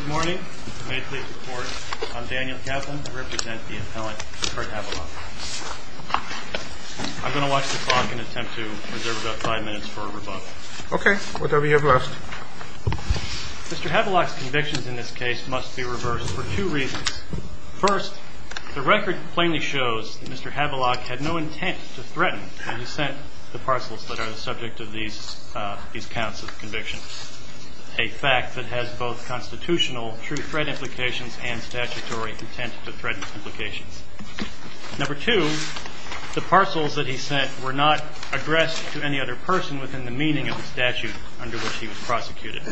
Good morning. May it please the court, I'm Daniel Kaplan. I represent the appellant Kurt Havelock. I'm going to watch the clock and attempt to reserve about five minutes for a rebuttal. Okay. Whatever you have left. Mr. Havelock's convictions in this case must be reversed for two reasons. First, the record plainly shows that Mr. Havelock had no intent to threaten and dissent the parcels that are the subject of these counts of conviction, a fact that has both constitutional true threat implications and statutory intent to threaten implications. Number two, the parcels that he sent were not addressed to any other person within the meaning of the statute under which he was prosecuted.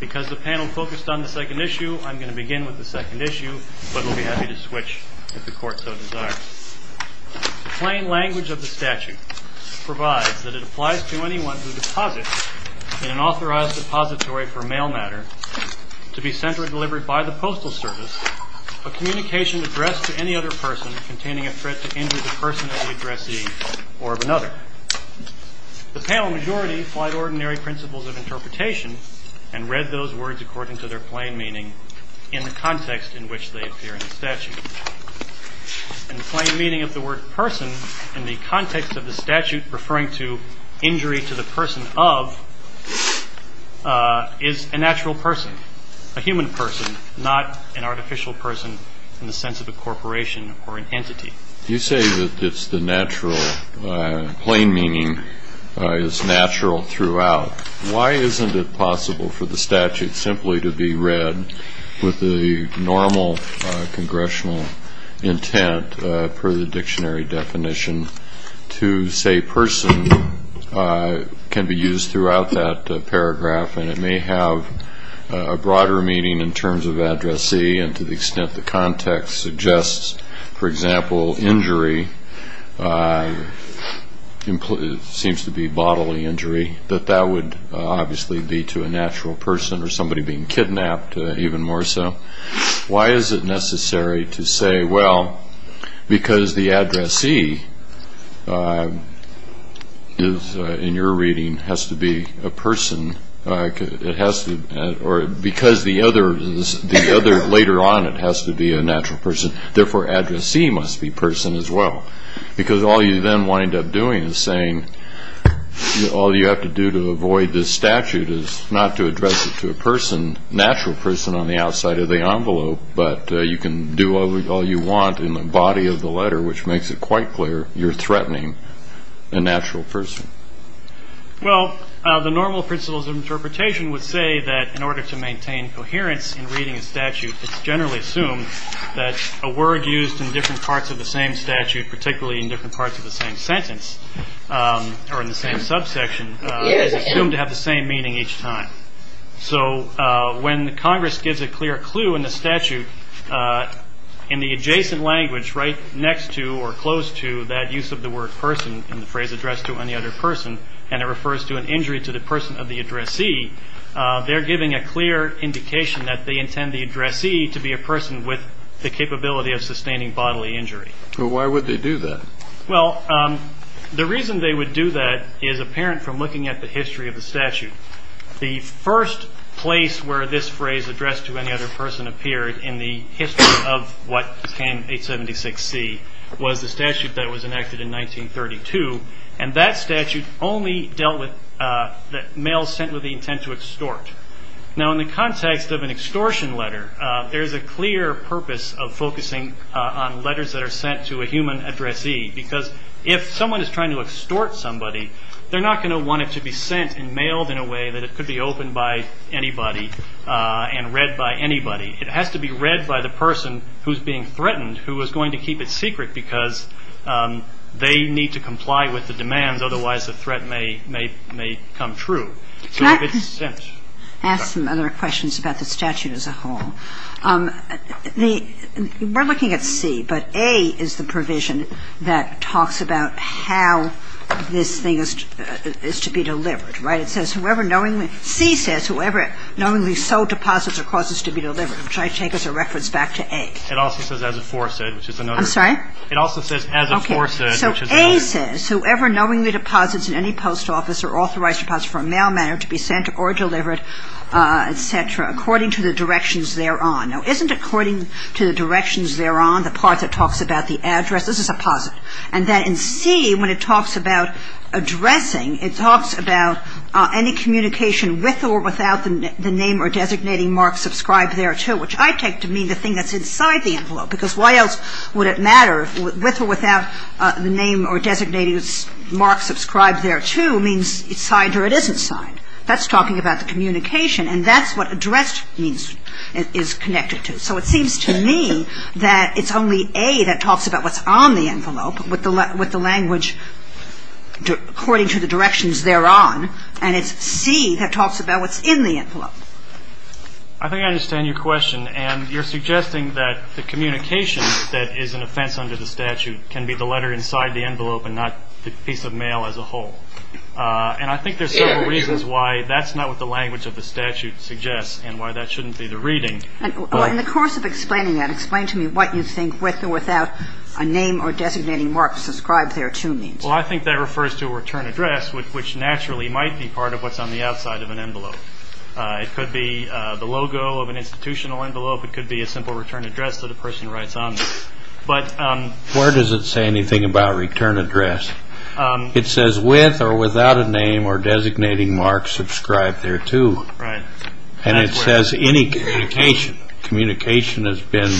Because the panel focused on the second issue, I'm going to begin with the second issue, but I'll be happy to switch if the court so desires. The plain language of the statute provides that it applies to anyone who deposits in an authorized depository for mail matter to be sent or delivered by the postal service a communication addressed to any other person containing a threat to injure the person of the addressee or of another. The panel majority applied ordinary principles of interpretation and read those words according to their plain meaning in the context in which they appear in the statute. And the plain meaning of the word person in the context of the statute referring to injury to the person of is a natural person, a human person, not an artificial person in the sense of a corporation or an entity. You say that it's the natural plain meaning is natural throughout. Why isn't it possible for the statute simply to be read with the normal congressional intent per the dictionary definition to say person can be used throughout that paragraph and it may have a broader meaning in terms of addressee and to the extent the context suggests, for example, injury seems to be bodily injury, that that would obviously be to a natural person or somebody being kidnapped even more so. Why is it necessary to say, well, because the addressee in your reading has to be a person, or because the other later on, it has to be a natural person. Therefore, addressee must be person as well. Because all you then wind up doing is saying all you have to do to avoid this statute is not to address it to a person, natural person on the outside of the envelope, but you can do all you want in the body of the letter, which makes it quite clear you're threatening a natural person. Well, the normal principles of interpretation would say that in order to maintain coherence in reading a statute, it's generally assumed that a word used in different parts of the same statute, particularly in different parts of the same sentence or in the same subsection, is assumed to have the same meaning each time. So when Congress gives a clear clue in the statute, in the adjacent language right next to or close to that use of the word person in the phrase addressed to any other person, and it refers to an injury to the person of the addressee, they're giving a clear indication that they intend the addressee to be a person with the capability of sustaining bodily injury. Well, why would they do that? Well, the reason they would do that is apparent from looking at the history of the statute. The first place where this phrase addressed to any other person appeared in the history of what became 876C was the statute that was enacted in 1932, and that statute only dealt with mails sent with the intent to extort. Now, in the context of an extortion letter, there's a clear purpose of focusing on letters that are sent to a human addressee, because if someone is trying to extort somebody, they're not going to want it to be sent and mailed in a way that it could be opened by anybody and read by anybody. It has to be read by the person who's being threatened, who is going to keep it secret because they need to comply with the demands, otherwise the threat may come true. So if it's sent. Can I ask some other questions about the statute as a whole? We're looking at C, but A is the provision that talks about how this thing is to be delivered, right? It says whoever knowingly – C says whoever knowingly sold deposits or causes to be delivered, which I take as a reference back to A. It also says as a foresaid, which is another. I'm sorry? It also says as a foresaid, which is another. Okay. So A says whoever knowingly deposits in any post office or authorized deposit for a mailman or to be sent or delivered, et cetera, according to the directions thereon. Now, isn't according to the directions thereon the part that talks about the address? This is a posit. And then in C, when it talks about addressing, it talks about any communication with or without the name or designating mark subscribed thereto, which I take to mean the thing that's inside the envelope, because why else would it matter if with or without the name or designating mark subscribed thereto means it's signed or it isn't signed. That's talking about the communication. And that's what addressed means is connected to. So it seems to me that it's only A that talks about what's on the envelope with the language according to the directions thereon. And it's C that talks about what's in the envelope. I think I understand your question. And you're suggesting that the communication that is an offense under the statute can be the letter inside the envelope and not the piece of mail as a whole. And I think there's several reasons why that's not what the language of the statute suggests and why that shouldn't be the reading. In the course of explaining that, explain to me what you think with or without a name or designating mark subscribed thereto means. Well, I think that refers to a return address, which naturally might be part of what's on the outside of an envelope. It could be the logo of an institutional envelope. It could be a simple return address that a person writes on. But where does it say anything about return address? It says with or without a name or designating mark subscribed thereto. And it says any communication. Communication has been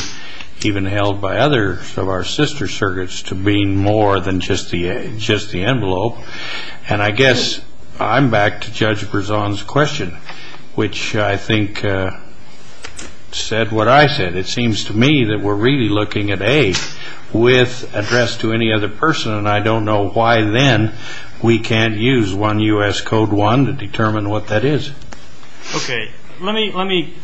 even held by others of our sister circuits to mean more than just the envelope. And I guess I'm back to Judge Berzon's question, which I think said what I said. It seems to me that we're really looking at A with address to any other person, and I don't know why then we can't use 1 U.S. Code 1 to determine what that is. Okay. Let me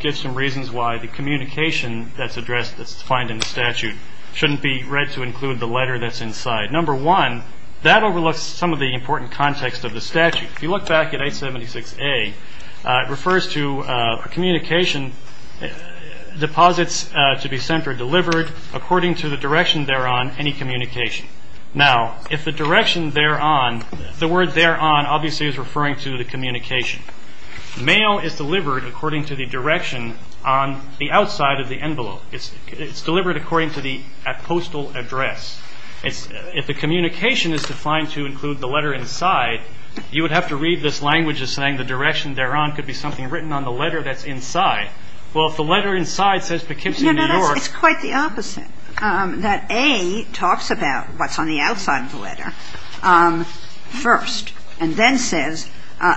give some reasons why the communication that's addressed, that's defined in the statute, shouldn't be read to include the letter that's inside. Number one, that overlooks some of the important context of the statute. If you look back at 876A, it refers to a communication deposits to be sent or delivered according to the direction thereon, any communication. Now, if the direction thereon, the word thereon obviously is referring to the communication. Mail is delivered according to the direction on the outside of the envelope. It's delivered according to the postal address. If the communication is defined to include the letter inside, you would have to read this language as saying the direction thereon could be something written on the letter that's inside. Well, if the letter inside says Poughkeepsie, New York. No, no. It's quite the opposite. That A talks about what's on the outside of the letter first and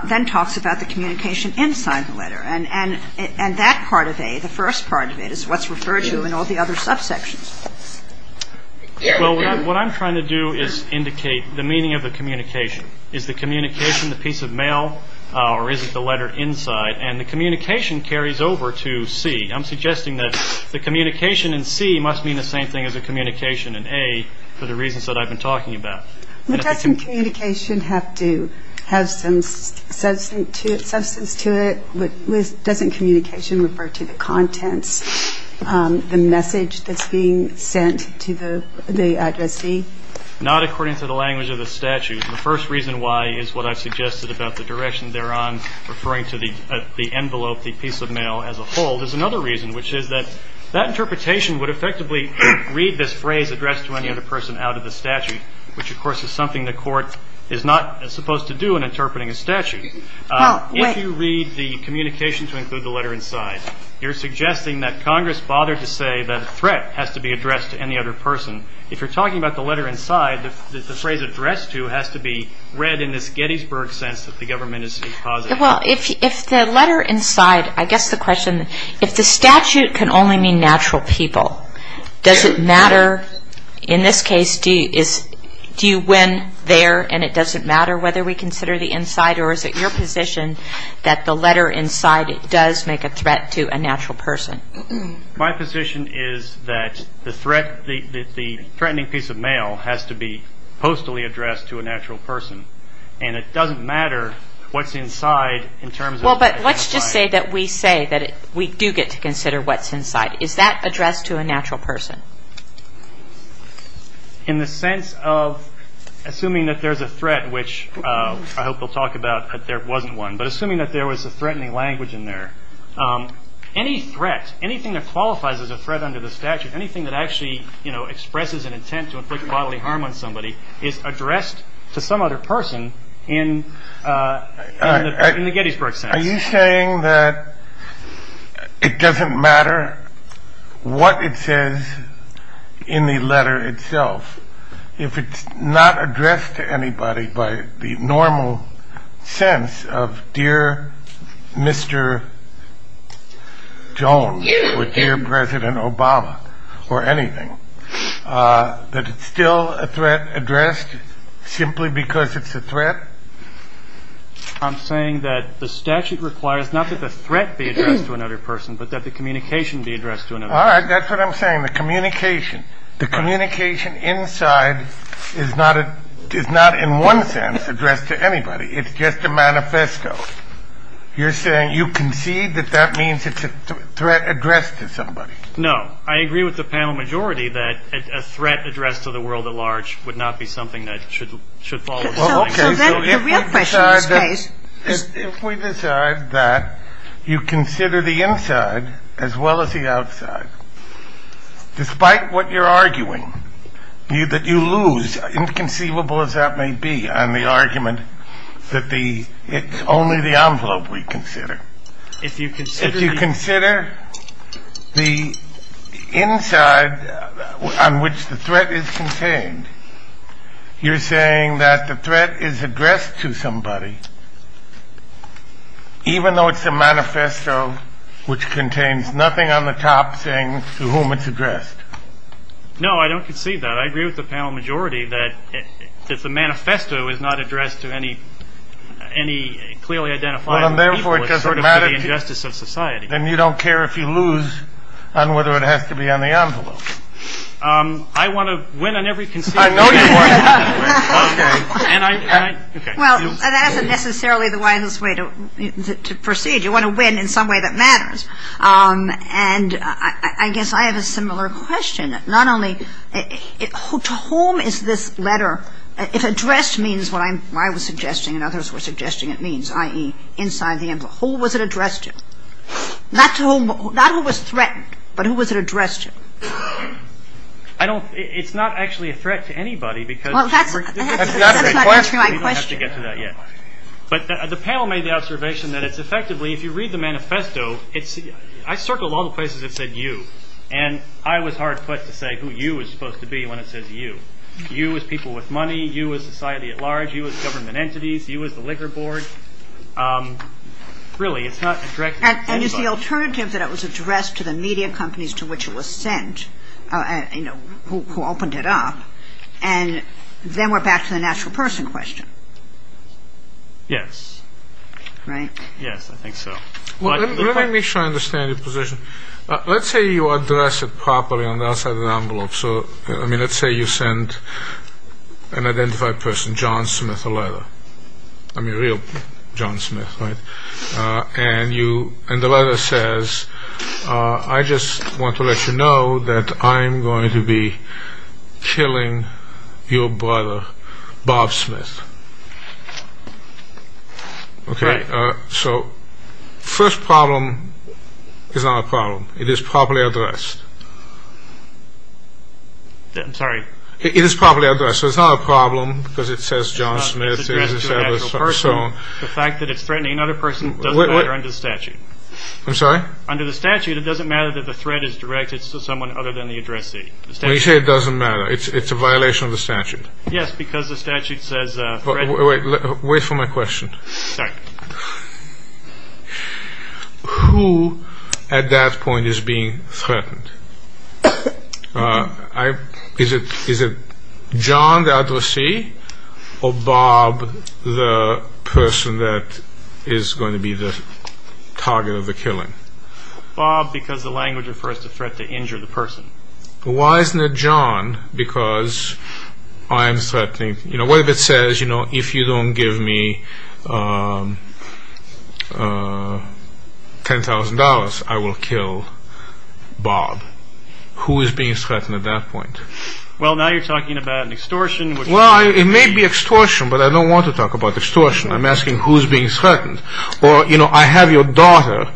then talks about the communication inside the letter. And that part of A, the first part of it, is what's referred to in all the other subsections. Well, what I'm trying to do is indicate the meaning of the communication. Is the communication the piece of mail or is it the letter inside? And the communication carries over to C. I'm suggesting that the communication in C must mean the same thing as the communication in A for the reasons that I've been talking about. Doesn't communication have to have some substance to it? Doesn't communication refer to the contents, the message that's being sent to the address C? Not according to the language of the statute. The first reason why is what I've suggested about the direction thereon referring to the envelope, the piece of mail as a whole. There's another reason, which is that that interpretation would effectively read this phrase addressed to any other person out of the statute, which, of course, is something the court is not supposed to do in interpreting a statute. If you read the communication to include the letter inside, you're suggesting that Congress bothered to say that a threat has to be addressed to any other person. If you're talking about the letter inside, the phrase addressed to has to be read in this Gettysburg sense that the government is causing. Well, if the letter inside, I guess the question, if the statute can only mean natural people, does it matter, in this case, do you win there and it doesn't matter whether we consider the inside or is it your position that the letter inside does make a threat to a natural person? My position is that the threatening piece of mail has to be postally addressed to a natural person and it doesn't matter what's inside in terms of the letter inside. Well, but let's just say that we say that we do get to consider what's inside. Is that addressed to a natural person? In the sense of assuming that there's a threat, which I hope we'll talk about that there wasn't one, but assuming that there was a threatening language in there. Any threat, anything that qualifies as a threat under the statute, anything that actually expresses an intent to inflict bodily harm on somebody is addressed to some other person in the Gettysburg sense. Are you saying that it doesn't matter what it says in the letter itself if it's not addressed to anybody by the normal sense of dear Mr. Jones or dear President Obama or anything, that it's still a threat addressed simply because it's a threat? I'm saying that the statute requires not that the threat be addressed to another person, but that the communication be addressed to another person. All right, that's what I'm saying. The communication inside is not in one sense addressed to anybody. It's just a manifesto. You're saying you concede that that means it's a threat addressed to somebody. No. I agree with the panel majority that a threat addressed to the world at large would not be something that should follow. Well, okay, so if we decide that you consider the inside as well as the outside, despite what you're arguing, that you lose, inconceivable as that may be, on the argument that it's only the envelope we consider. If you consider the inside on which the threat is contained, you're saying that the threat is addressed to somebody, even though it's a manifesto which contains nothing on the top saying to whom it's addressed. No, I don't concede that. I agree with the panel majority that if the manifesto is not addressed to any clearly identified people, it's sort of to the injustice of society. And you don't care if you lose on whether it has to be on the envelope. I want to win on every consideration. I know you do. Okay. Well, that isn't necessarily the wisest way to proceed. You want to win in some way that matters. And I guess I have a similar question. Not only to whom is this letter addressed means what I was suggesting and others were suggesting it means, i.e., inside the envelope. Who was it addressed to? Not who was threatened, but who was it addressed to? It's not actually a threat to anybody. That's not answering my question. We don't have to get to that yet. But the panel made the observation that it's effectively, if you read the manifesto, I circled all the places that said you, and I was hard-pressed to say who you was supposed to be when it says you. You as people with money, you as society at large, you as government entities, you as the liquor board. Really, it's not addressed to anybody. And it's the alternative that it was addressed to the media companies to which it was sent, you know, who opened it up. And then we're back to the natural person question. Yes. Right? Yes, I think so. Let me make sure I understand your position. Let's say you address it properly on the outside of the envelope. So, I mean, let's say you send an identified person, John Smith, a letter. I mean, real John Smith, right? And the letter says, I just want to let you know that I'm going to be killing your brother, Bob Smith. Right. So, first problem is not a problem. It is properly addressed. I'm sorry. It is properly addressed. So, it's not a problem because it says John Smith. It's addressed to a natural person. The fact that it's threatening another person doesn't matter under the statute. I'm sorry? Under the statute, it doesn't matter that the threat is directed to someone other than the addressee. When you say it doesn't matter, it's a violation of the statute. Yes, because the statute says... Wait for my question. Sorry. Who, at that point, is being threatened? Is it John, the addressee, or Bob, the person that is going to be the target of the killing? Bob, because the language refers to threat to injure the person. What if it says, if you don't give me $10,000, I will kill Bob? Who is being threatened at that point? Well, now you're talking about an extortion. Well, it may be extortion, but I don't want to talk about extortion. I'm asking who is being threatened. Or, you know, I have your daughter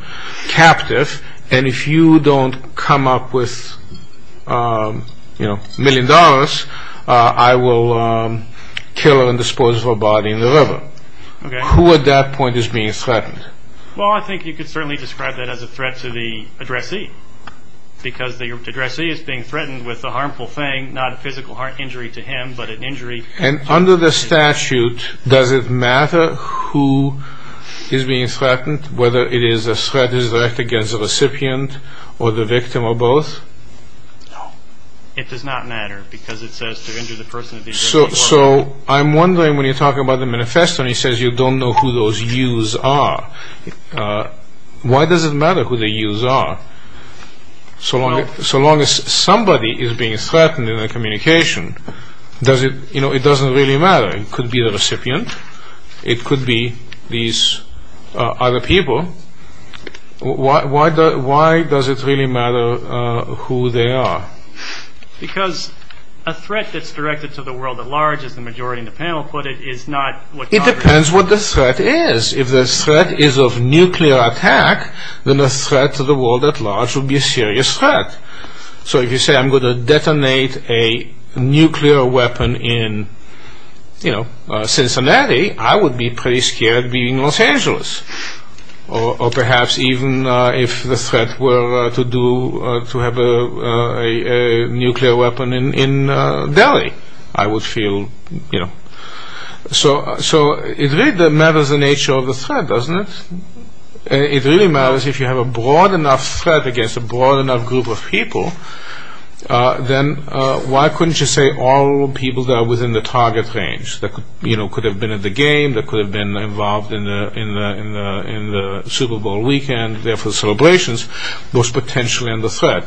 captive, and if you don't come up with, you know, $1 million, I will kill her and dispose of her body in the river. Okay. Who, at that point, is being threatened? Well, I think you could certainly describe that as a threat to the addressee, because the addressee is being threatened with a harmful thing, not a physical injury to him, but an injury... And under the statute, does it matter who is being threatened, whether it is a threat directed against the recipient, or the victim, or both? No. It does not matter, because it says to injure the person... So I'm wondering, when you're talking about the manifesto, and it says you don't know who those yous are, why does it matter who the yous are? So long as somebody is being threatened in the communication, it doesn't really matter. It could be the recipient. It could be these other people. Why does it really matter who they are? Because a threat that's directed to the world at large, as the majority in the panel put it, is not... It depends what the threat is. If the threat is of nuclear attack, then a threat to the world at large would be a serious threat. So if you say, I'm going to detonate a nuclear weapon in Cincinnati, I would be pretty scared being in Los Angeles. Or perhaps even if the threat were to have a nuclear weapon in Delhi, I would feel... So it really matters the nature of the threat, doesn't it? It really matters if you have a broad enough threat against a broad enough group of people, then why couldn't you say all people that are within the target range, that could have been at the game, that could have been involved in the Super Bowl weekend, therefore celebrations, was potentially under threat.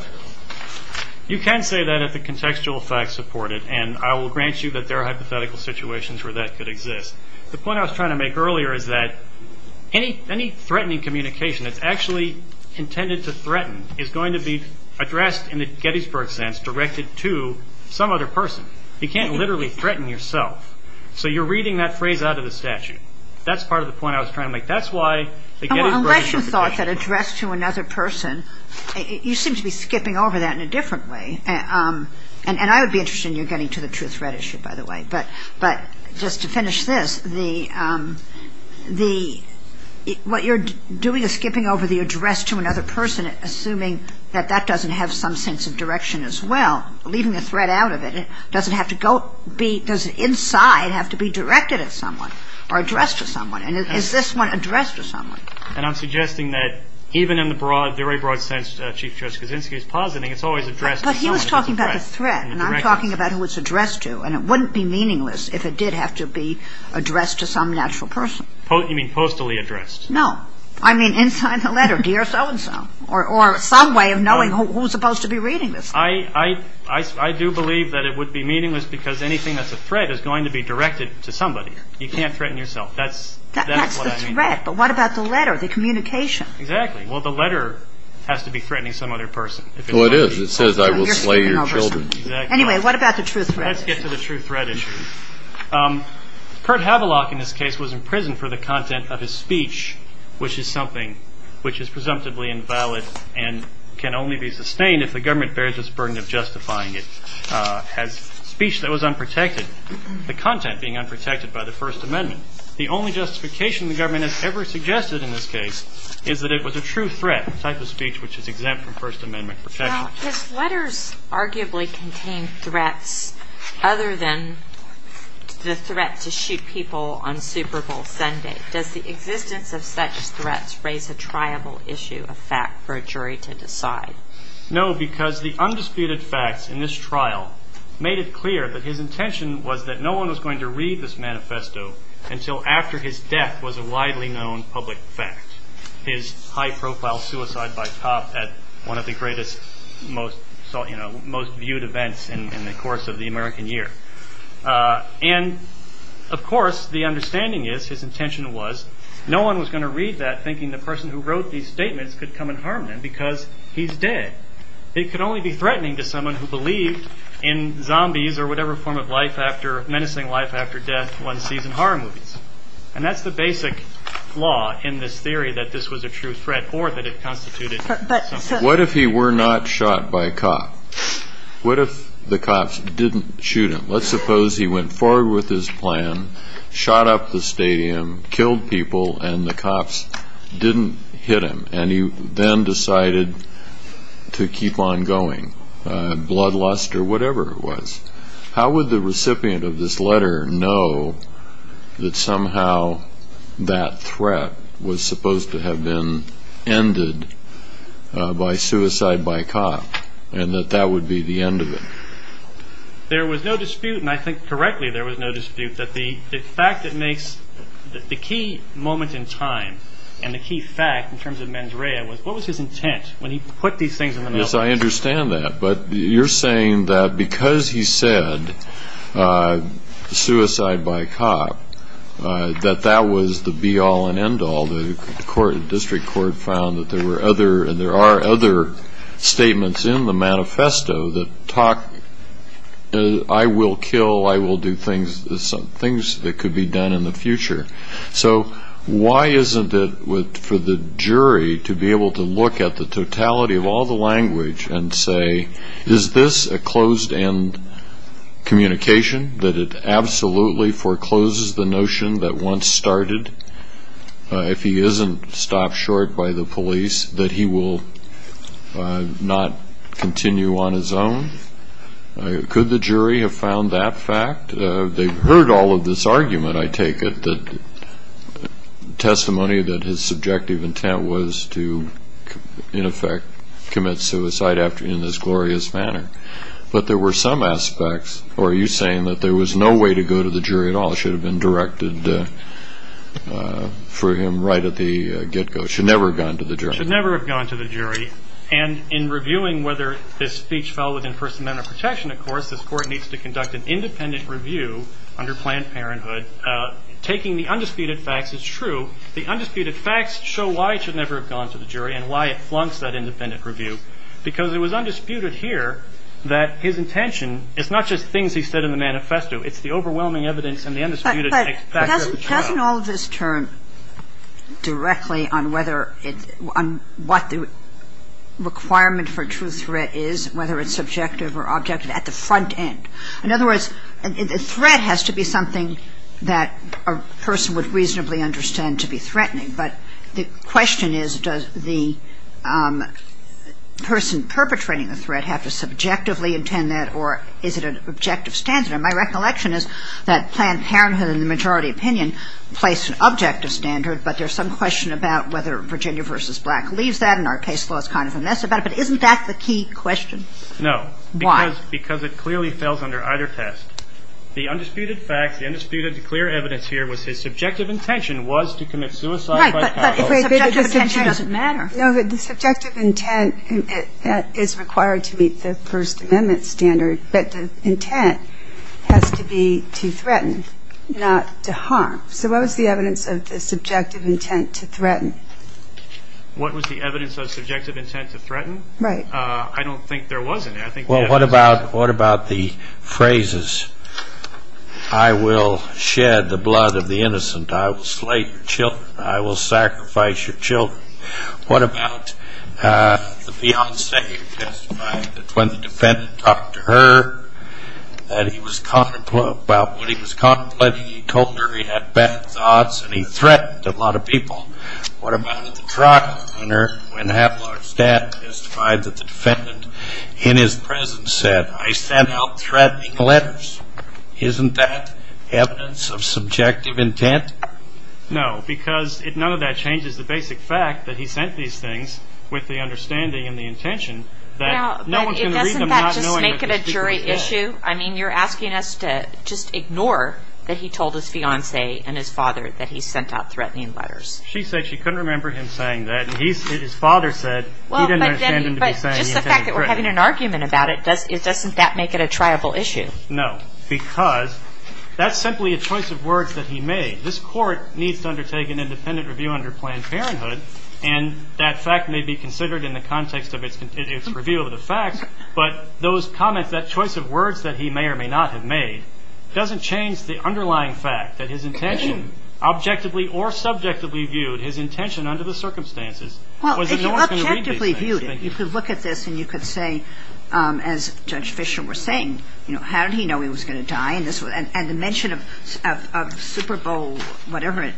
You can say that if the contextual facts support it, and I will grant you that there are hypothetical situations where that could exist. The point I was trying to make earlier is that any threatening communication that's actually intended to threaten is going to be addressed in the Gettysburg sense, directed to some other person. You can't literally threaten yourself. So you're reading that phrase out of the statute. That's part of the point I was trying to make. That's why the Gettysburg... Unless you thought that addressed to another person, you seem to be skipping over that in a different way. And I would be interested in your getting to the true threat issue, by the way. But just to finish this, what you're doing is skipping over the address to another person, assuming that that doesn't have some sense of direction as well, leaving the threat out of it. Does it inside have to be directed at someone or addressed to someone? And is this one addressed to someone? And I'm suggesting that even in the very broad sense Chief Justice Kuczynski is positing, it's always addressed to someone. But he was talking about the threat, and I'm talking about who it's addressed to, and it wouldn't be meaningless if it did have to be addressed to some natural person. You mean postally addressed? No, I mean inside the letter, dear so-and-so, or some way of knowing who's supposed to be reading this. I do believe that it would be meaningless because anything that's a threat is going to be directed to somebody. You can't threaten yourself. That's the threat, but what about the letter, the communication? Exactly. Well, the letter has to be threatening some other person. Well, it is. It says I will slay your children. Exactly. Anyway, what about the true threat? Let's get to the true threat issue. Curt Havelock in this case was imprisoned for the content of his speech, which is something which is presumptively invalid and can only be sustained if the government bears this burden of justifying it as speech that was unprotected, the content being unprotected by the First Amendment. The only justification the government has ever suggested in this case is that it was a true threat, the type of speech which is exempt from First Amendment protection. Now, his letters arguably contain threats other than the threat to shoot people on Super Bowl Sunday. Does the existence of such threats raise a triable issue, a fact for a jury to decide? No, because the undisputed facts in this trial made it clear that his intention was that no one was going to read this manifesto until after his death was a widely known public fact. His high-profile suicide by cop at one of the greatest, most viewed events in the course of the American year. And, of course, the understanding is, his intention was, no one was going to read that thinking the person who wrote these statements could come and harm them because he's dead. It could only be threatening to someone who believed in zombies or whatever form of life after, menacing life after death one sees in horror movies. And that's the basic flaw in this theory that this was a true threat or that it constituted something. What if he were not shot by a cop? What if the cops didn't shoot him? Let's suppose he went forward with his plan, shot up the stadium, killed people, and the cops didn't hit him, and he then decided to keep on going, bloodlust or whatever it was. How would the recipient of this letter know that somehow that threat was supposed to have been ended by suicide by cop and that that would be the end of it? There was no dispute, and I think correctly there was no dispute, that the fact that makes the key moment in time and the key fact in terms of Mandrea was what was his intent when he put these things in the manifesto? Yes, I understand that, but you're saying that because he said suicide by cop, that that was the be-all and end-all. The district court found that there were other, and there are other statements in the manifesto that talk, I will kill, I will do things, things that could be done in the future. So why isn't it for the jury to be able to look at the totality of all the language and say, is this a closed-end communication, that it absolutely forecloses the notion that once started, if he isn't stopped short by the police, that he will not continue on his own? Could the jury have found that fact? They've heard all of this argument, I take it, that testimony that his subjective intent was to, in effect, commit suicide in this glorious manner. But there were some aspects, or are you saying that there was no way to go to the jury at all? It should have been directed for him right at the get-go. It should never have gone to the jury. It should never have gone to the jury. And in reviewing whether this speech fell within First Amendment protection, of course, this Court needs to conduct an independent review under Planned Parenthood. Taking the undisputed facts is true. The undisputed facts show why it should never have gone to the jury and why it flunks that independent review. Because it was undisputed here that his intention is not just things he said in the manifesto. It's the overwhelming evidence and the undisputed facts. But doesn't all of this turn directly on whether it's – on what the requirement for a true threat is, whether it's subjective or objective, at the front end? In other words, a threat has to be something that a person would reasonably understand to be threatening. But the question is, does the person perpetrating the threat have to subjectively intend that, or is it an objective standard? And my recollection is that Planned Parenthood, in the majority opinion, placed an objective standard, but there's some question about whether Virginia v. Black leaves that, and our case law is kind of a mess about it. But isn't that the key question? No. Why? Because it clearly fails under either test. The undisputed facts, the undisputed clear evidence here was his subjective intention was to commit suicide. Right, but the subjective intention doesn't matter. No, the subjective intent is required to meet the First Amendment standard, but the intent has to be to threaten, not to harm. So what was the evidence of the subjective intent to threaten? What was the evidence of subjective intent to threaten? Right. I don't think there was any. Well, what about the phrases, I will shed the blood of the innocent, I will slay your children, I will sacrifice your children? What about the fiancée testified that when the defendant talked to her that he was contemplating, he told her he had bad thoughts and he threatened a lot of people. What about the truck owner when a half-large staff testified that the defendant in his presence said, I sent out threatening letters? Isn't that evidence of subjective intent? No, because none of that changes the basic fact that he sent these things with the understanding and the intention that no one can read them not knowing what the speaker said. Doesn't that just make it a jury issue? I mean, you're asking us to just ignore that he told his fiancée and his father that he sent out threatening letters. She said she couldn't remember him saying that. His father said he didn't understand him to be saying he intended to threaten. But just the fact that we're having an argument about it, doesn't that make it a triable issue? No, because that's simply a choice of words that he made. This Court needs to undertake an independent review under Planned Parenthood, and that fact may be considered in the context of its review of the facts, but those comments, that choice of words that he may or may not have made, doesn't change the underlying fact that his intention, objectively or subjectively viewed, his intention under the circumstances was that no one could read these things. Well, if you objectively viewed it, you could look at this and you could say, as Judge Fischer was saying, how did he know he was going to die? And the mention of Super Bowl whatever it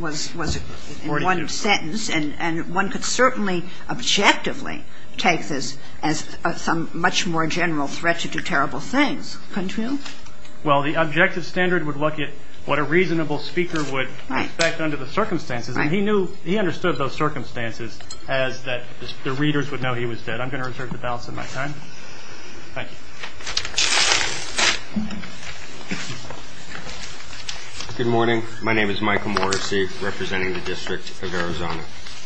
was in one sentence, and one could certainly objectively take this as a much more general threat to do terrible things. Well, the objective standard would look at what a reasonable speaker would expect under the circumstances, and he understood those circumstances as that the readers would know he was dead. I'm going to reserve the balance of my time. Thank you. Good morning. My name is Michael Morrissey, representing the District of Arizona.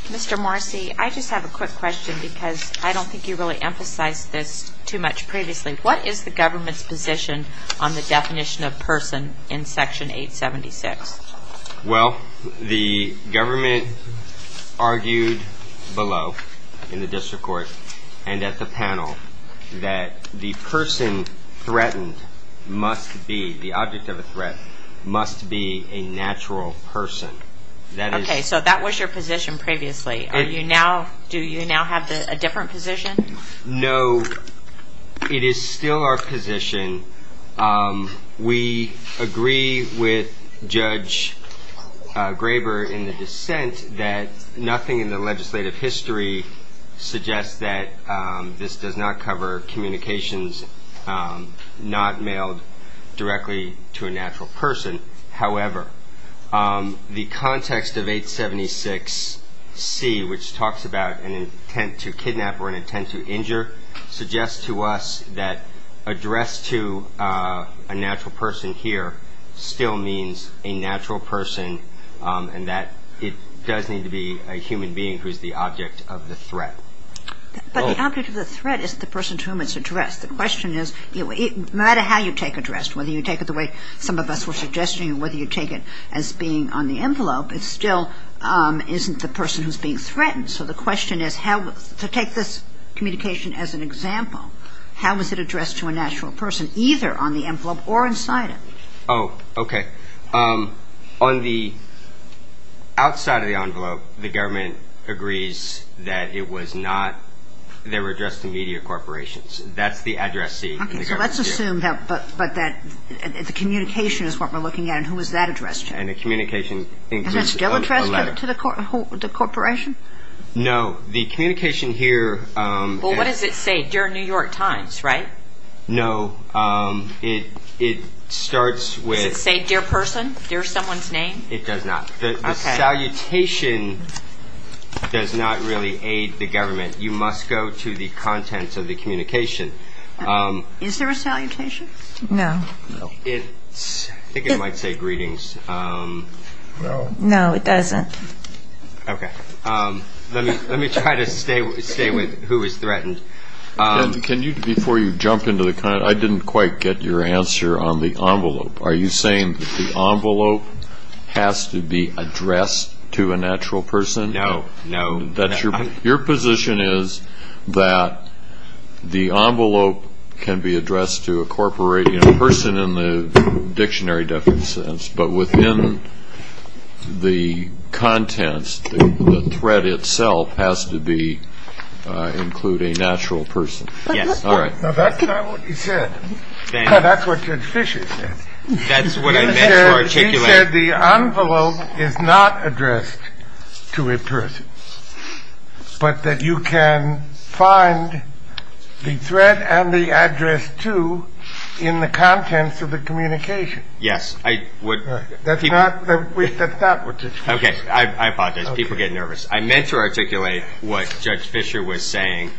Mr. Morrissey, I just have a quick question because I don't think you really emphasized this too much previously. What is the government's position on the definition of person in Section 876? Well, the government argued below in the district court and at the panel that the person threatened must be, the object of a threat, must be a natural person. Okay, so that was your position previously. Do you now have a different position? No, it is still our position. We agree with Judge Graber in the dissent that nothing in the legislative history suggests that this does not cover communications not mailed directly to a natural person. However, the context of 876C, which talks about an intent to kidnap or an intent to injure, suggests to us that addressed to a natural person here still means a natural person and that it does need to be a human being who is the object of the threat. But the object of the threat is the person to whom it's addressed. The question is, no matter how you take addressed, whether you take it the way some of us were suggesting or whether you take it as being on the envelope, it still isn't the person who's being threatened. So the question is, to take this communication as an example, how is it addressed to a natural person either on the envelope or inside it? Oh, okay. On the outside of the envelope, the government agrees that it was not, they were addressed to media corporations. That's the address C. Okay. So let's assume that, but that the communication is what we're looking at. And who is that addressed to? And the communication includes a letter. Is that still addressed to the corporation? No. The communication here. Well, what does it say? Dear New York Times, right? No. It starts with. Does it say dear person, dear someone's name? It does not. Okay. The salutation does not really aid the government. You must go to the contents of the communication. Is there a salutation? No. I think it might say greetings. No, it doesn't. Okay. Let me try to stay with who is threatened. Can you, before you jump into the, I didn't quite get your answer on the envelope. Are you saying that the envelope has to be addressed to a natural person? No, no. Your position is that the envelope can be addressed to a corporation, a person in the dictionary, but within the contents, the threat itself has to include a natural person. Yes. That's not what he said. That's what Judge Fisher said. That's what I meant to articulate. He said the envelope is not addressed to a person, but that you can find the threat and the address to in the contents of the communication. Yes. That's not what Judge Fisher said. Okay. I apologize. People get nervous. I meant to articulate what Judge Fisher was saying.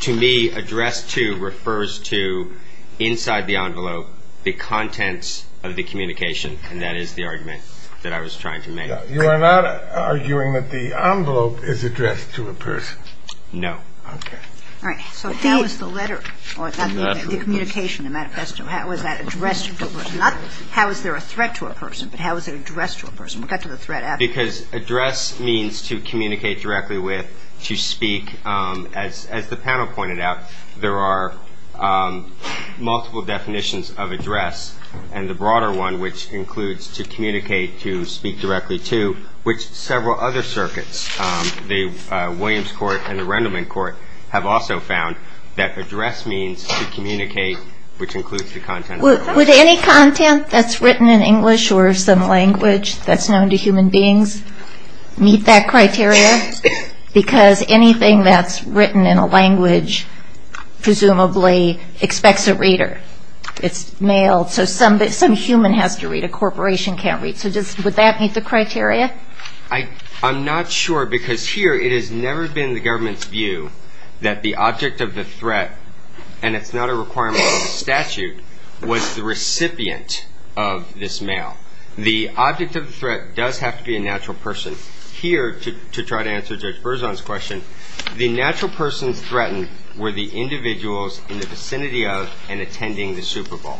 To me, addressed to refers to inside the envelope the contents of the communication, and that is the argument that I was trying to make. You are not arguing that the envelope is addressed to a person? No. Okay. All right. So how is the letter, or the communication, the manifesto, how is that addressed to a person? Not how is there a threat to a person, but how is it addressed to a person? We'll get to the threat after. Because address means to communicate directly with, to speak. As the panel pointed out, there are multiple definitions of address, and the broader one, which includes to communicate, to speak directly to, which several other circuits, the Williams Court and the Rendleman Court, have also found that address means to communicate, which includes the contents of the conversation. Would any content that's written in English or some language that's known to human beings meet that criteria? Because anything that's written in a language presumably expects a reader. It's mailed. So some human has to read. A corporation can't read. So would that meet the criteria? I'm not sure, because here it has never been the government's view that the object of the threat, and it's not a requirement of the statute, was the recipient of this mail. The object of the threat does have to be a natural person. Here, to try to answer Judge Berzon's question, the natural persons threatened were the individuals in the vicinity of and attending the Super Bowl.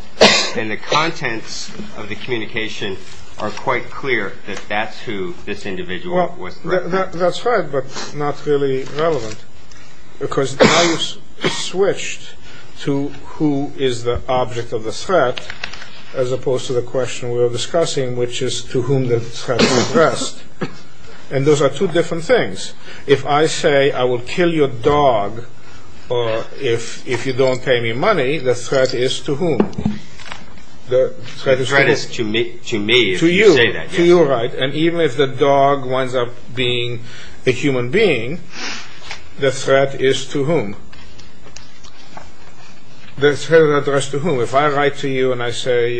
And the contents of the communication are quite clear that that's who this individual was threatening. That's right, but not really relevant. Because now you've switched to who is the object of the threat, as opposed to the question we were discussing, which is to whom the threat is addressed. And those are two different things. If I say, I will kill your dog, or if you don't pay me money, the threat is to whom? The threat is to me, if you say that. To you. To you, right. And even if the dog winds up being a human being, the threat is to whom? The threat is addressed to whom? If I write to you and I say,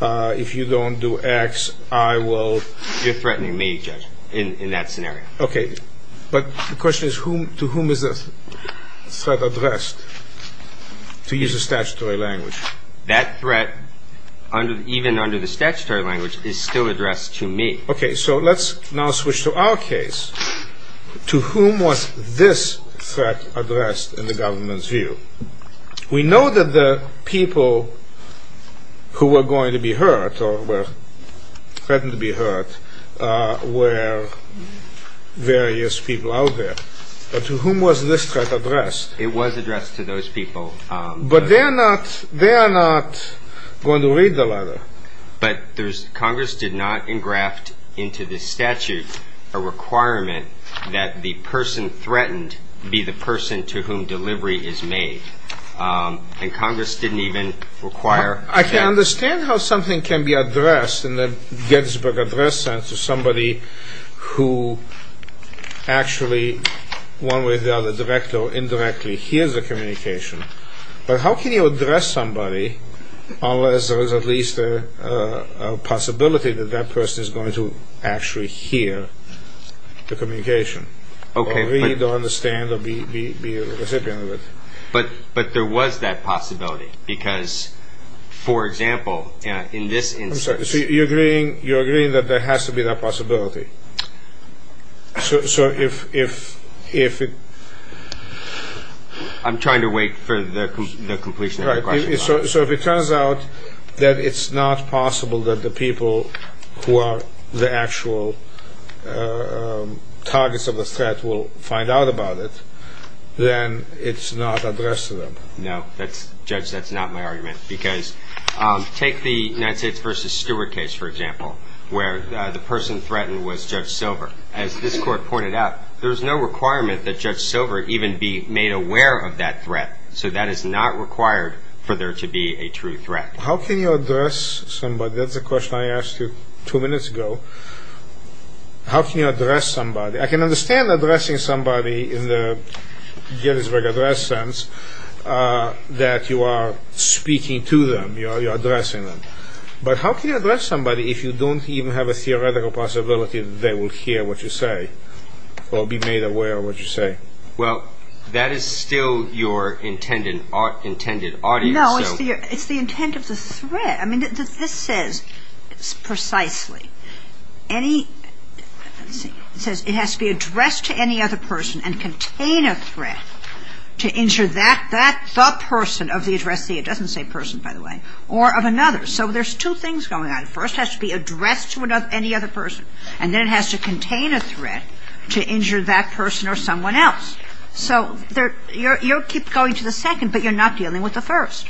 if you don't do X, I will... You're threatening me, Judge, in that scenario. Okay. But the question is, to whom is the threat addressed? To use the statutory language. That threat, even under the statutory language, is still addressed to me. Okay, so let's now switch to our case. To whom was this threat addressed in the government's view? We know that the people who were going to be hurt, or were threatened to be hurt, were various people out there. But to whom was this threat addressed? It was addressed to those people. But they are not going to read the letter. But Congress did not engraft into the statute a requirement that the person threatened be the person to whom delivery is made. And Congress didn't even require... I can understand how something can be addressed in the Gettysburg address sense to somebody who actually, one way or the other, directly or indirectly hears the communication. But how can you address somebody unless there is at least a possibility that that person is going to actually hear the communication, or read, or understand, or be a recipient of it? But there was that possibility, because, for example, in this instance... I'm sorry. You're agreeing that there has to be that possibility. So if... I'm trying to wait for the completion of the question. So if it turns out that it's not possible that the people who are the actual targets of the threat will find out about it, then it's not addressed to them. No, Judge, that's not my argument. Because take the United States v. Stewart case, for example, where the person threatened was Judge Silver. As this Court pointed out, there's no requirement that Judge Silver even be made aware of that threat. So that is not required for there to be a true threat. How can you address somebody? That's a question I asked you two minutes ago. How can you address somebody? I can understand addressing somebody in the Gettysburg address sense that you are speaking to them, you're addressing them. But how can you address somebody if you don't even have a theoretical possibility that they will hear what you say or be made aware of what you say? Well, that is still your intended audience. No, it's the intent of the threat. I mean, this says precisely any... That's the person of the addressee. It doesn't say person, by the way, or of another. So there's two things going on. First has to be addressed to any other person, and then it has to contain a threat to injure that person or someone else. So you keep going to the second, but you're not dealing with the first.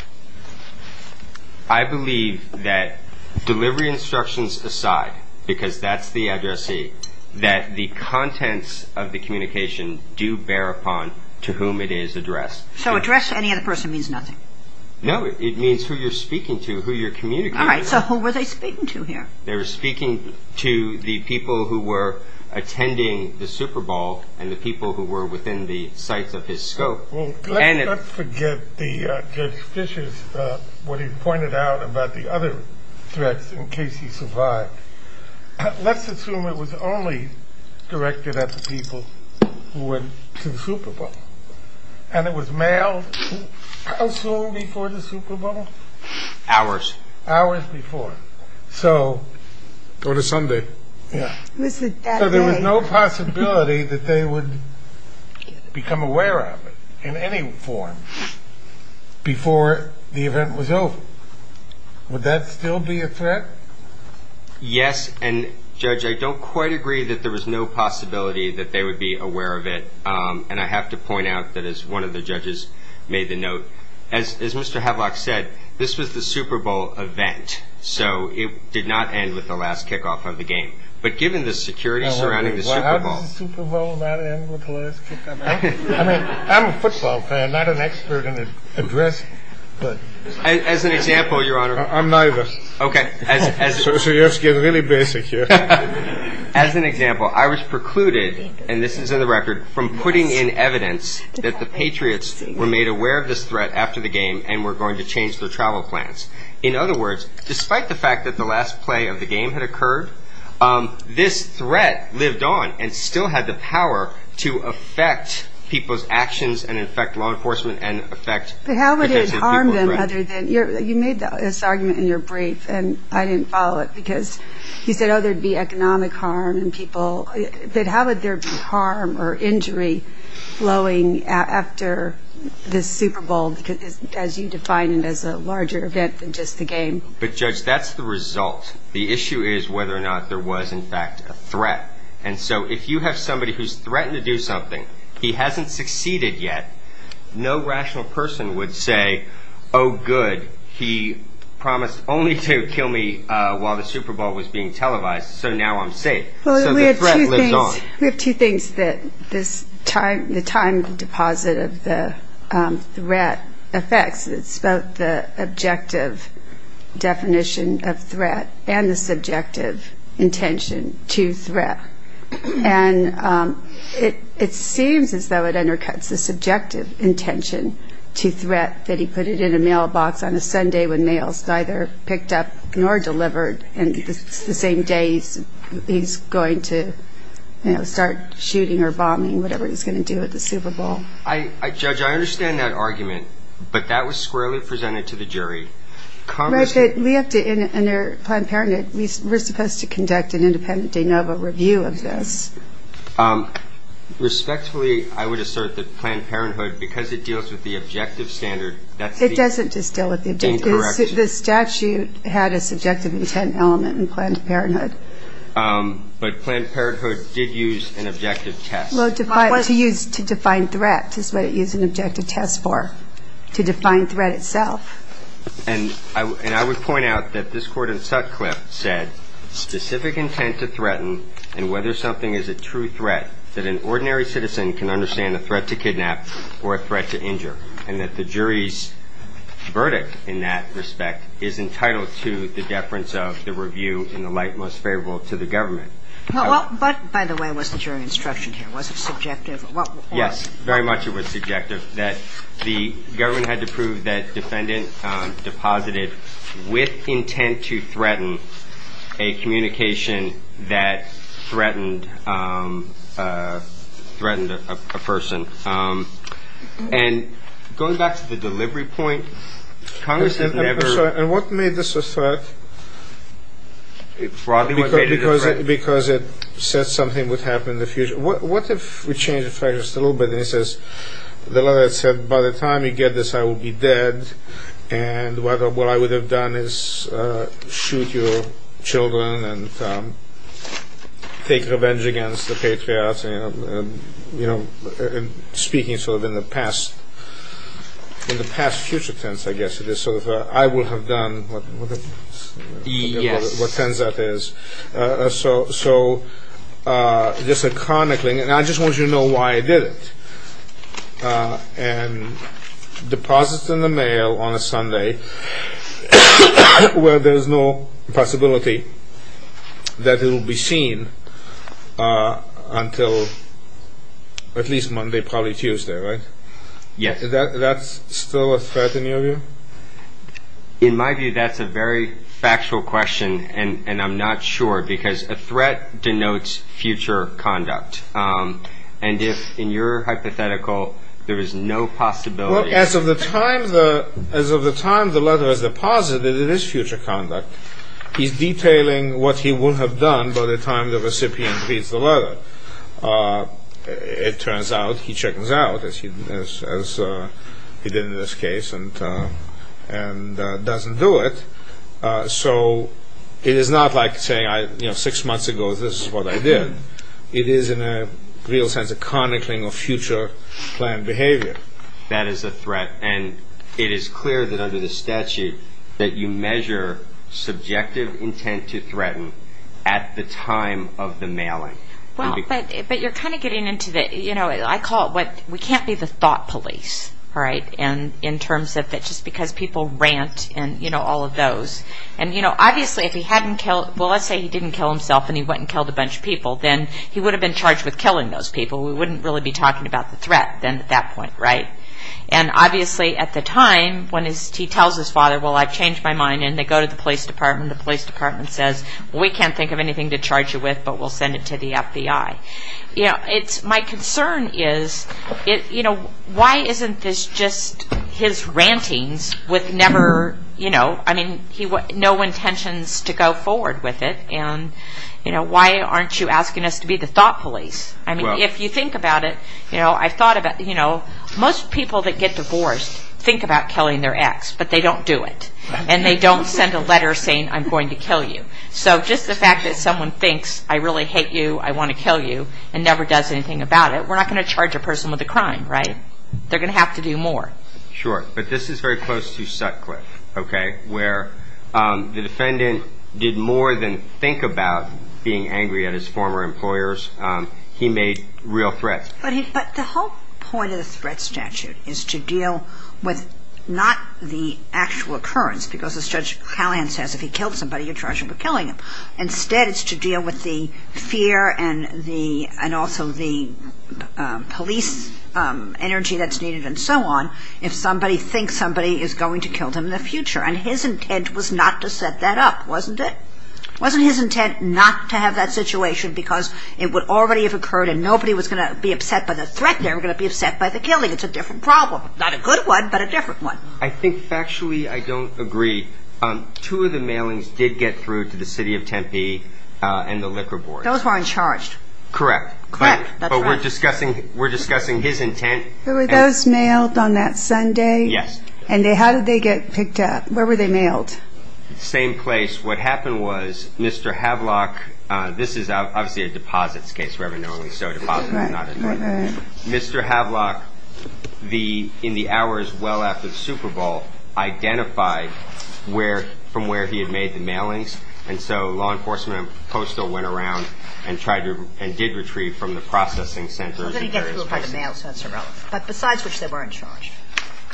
I believe that delivery instructions aside, because that's the addressee, that the contents of the communication do bear upon to whom it is addressed. So address any other person means nothing? No, it means who you're speaking to, who you're communicating with. All right, so who were they speaking to here? They were speaking to the people who were attending the Super Bowl and the people who were within the sights of his scope. Let's not forget Judge Fischer's, what he pointed out about the other threats in case he survived. Let's assume it was only directed at the people who went to the Super Bowl, and it was mailed how soon before the Super Bowl? Hours. Hours before, so... Or to Sunday. So there was no possibility that they would become aware of it in any form before the event was over. Would that still be a threat? Yes. And, Judge, I don't quite agree that there was no possibility that they would be aware of it. And I have to point out that as one of the judges made the note, as Mr. Havlock said, this was the Super Bowl event, so it did not end with the last kickoff of the game. But given the security surrounding the Super Bowl... Well, how does the Super Bowl not end with the last kickoff? I mean, I'm a football fan, not an expert in addressing, but... As an example, Your Honor... I'm nervous. Okay. So you have to get really basic here. As an example, I was precluded, and this is in the record, from putting in evidence that the Patriots were made aware of this threat after the game and were going to change their travel plans. In other words, despite the fact that the last play of the game had occurred, this threat lived on and still had the power to affect people's actions and affect law enforcement and affect... But how would it harm them other than... You made this argument in your brief, and I didn't follow it, because you said, oh, there would be economic harm and people... But how would there be harm or injury flowing after this Super Bowl, as you define it as a larger event than just the game? But, Judge, that's the result. The issue is whether or not there was, in fact, a threat. And so if you have somebody who's threatened to do something, he hasn't succeeded yet, no rational person would say, oh, good, he promised only to kill me while the Super Bowl was being televised, so now I'm safe. So the threat lives on. We have two things that the time deposit of the threat affects. It's both the objective definition of threat and the subjective intention to threat. And it seems as though it undercuts the subjective intention to threat that he put it in a mailbox on a Sunday when mail was neither picked up nor delivered, and it's the same day he's going to start shooting or bombing, whatever he's going to do at the Super Bowl. Judge, I understand that argument, but that was squarely presented to the jury. Right, but we have to, under Planned Parenthood, we're supposed to conduct an independent de novo review of this. Respectfully, I would assert that Planned Parenthood, because it deals with the objective standard, that's the incorrect. It doesn't just deal with the objective. The statute had a subjective intent element in Planned Parenthood. But Planned Parenthood did use an objective test. Well, to define threat is what it used an objective test for, to define threat itself. And I would point out that this Court in Sutcliffe said, specific intent to threaten and whether something is a true threat, that an ordinary citizen can understand a threat to kidnap or a threat to injure, and that the jury's verdict in that respect is entitled to the deference of the review in the light most favorable to the government. But, by the way, was the jury instruction here? Was it subjective? Yes, very much it was subjective, that the government had to prove that defendant deposited with intent to threaten a communication that threatened a person. And going back to the delivery point, Congress has never— I'm sorry, and what made this a threat? Because it said something would happen in the future. What if we change the fact just a little bit, and it says, the letter said, by the time you get this, I will be dead, and what I would have done is shoot your children and take revenge against the patriots, and speaking sort of in the past future tense, I guess, it is sort of, I will have done— Yes. What tense that is. So, just a chronicling, and I just want you to know why I did it. And deposits in the mail on a Sunday where there is no possibility that it will be seen until at least Monday, probably Tuesday, right? Yes. Is that still a threat in your view? In my view, that's a very factual question, and I'm not sure, because a threat denotes future conduct. And if, in your hypothetical, there is no possibility— Well, as of the time the letter is deposited, it is future conduct. He's detailing what he will have done by the time the recipient reads the letter. It turns out he checks out, as he did in this case, and doesn't do it. So, it is not like saying, you know, six months ago this is what I did. It is, in a real sense, a chronicling of future planned behavior. That is a threat, and it is clear that under the statute that you measure subjective intent to threaten at the time of the mailing. Well, but you're kind of getting into it. You know, I call it what—we can't be the thought police, all right, in terms of just because people rant and, you know, all of those. And, you know, obviously if he hadn't killed— well, let's say he didn't kill himself and he went and killed a bunch of people, then he would have been charged with killing those people. We wouldn't really be talking about the threat then at that point, right? And, obviously, at the time when he tells his father, well, I've changed my mind, and they go to the police department, the police department says, well, we can't think of anything to charge you with, but we'll send it to the FBI. You know, it's—my concern is, you know, why isn't this just his rantings with never, you know— I mean, no intentions to go forward with it, and, you know, why aren't you asking us to be the thought police? I mean, if you think about it, you know, I've thought about, you know, most people that get divorced think about killing their ex, but they don't do it. And they don't send a letter saying, I'm going to kill you. So just the fact that someone thinks, I really hate you, I want to kill you, and never does anything about it, we're not going to charge a person with a crime, right? They're going to have to do more. Sure, but this is very close to Sutcliffe, okay, where the defendant did more than think about being angry at his former employers. He made real threats. But the whole point of the threat statute is to deal with not the actual occurrence, because as Judge Callahan says, if he killed somebody, you're charged with killing them. Instead, it's to deal with the fear and also the police energy that's needed and so on if somebody thinks somebody is going to kill them in the future. And his intent was not to set that up, wasn't it? Wasn't his intent not to have that situation because it would already have occurred and nobody was going to be upset by the threat. They were going to be upset by the killing. It's a different problem, not a good one, but a different one. I think factually I don't agree. Two of the mailings did get through to the city of Tempe and the liquor board. Those were uncharged. Correct. Correct, that's right. But we're discussing his intent. Were those mailed on that Sunday? Yes. And how did they get picked up? Where were they mailed? Same place. What happened was Mr. Havlock, this is obviously a deposits case, Mr. Havlock, in the hours well after the Super Bowl, identified from where he had made the mailings and so law enforcement and postal went around and did retrieve from the processing centers. But besides which they were uncharged.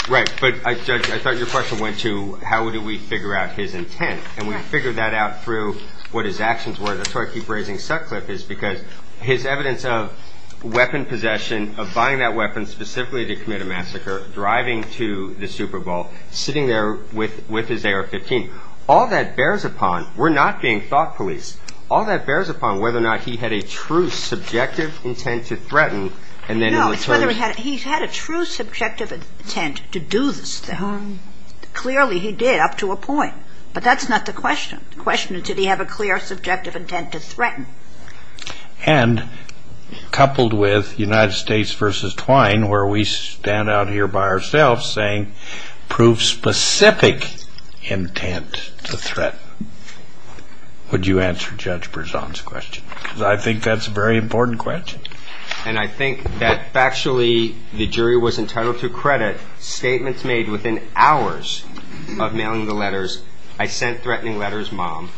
Right. But, Judge, I thought your question went to how do we figure out his intent and we figured that out through what his actions were. That's why I keep raising Sutcliffe is because his evidence of weapon possession, of buying that weapon specifically to commit a massacre, driving to the Super Bowl, sitting there with his AR-15, all that bears upon, we're not being thought police, all that bears upon whether or not he had a true subjective intent to threaten and then in return. No, it's whether he had a true subjective intent to do this. Clearly he did up to a point. But that's not the question. The question is did he have a clear subjective intent to threaten? And coupled with United States versus Twine where we stand out here by ourselves saying prove specific intent to threaten. Would you answer Judge Berzon's question? Because I think that's a very important question. And I think that factually the jury was entitled to credit statements made within hours of mailing the letters. I sent threatening letters, Mom.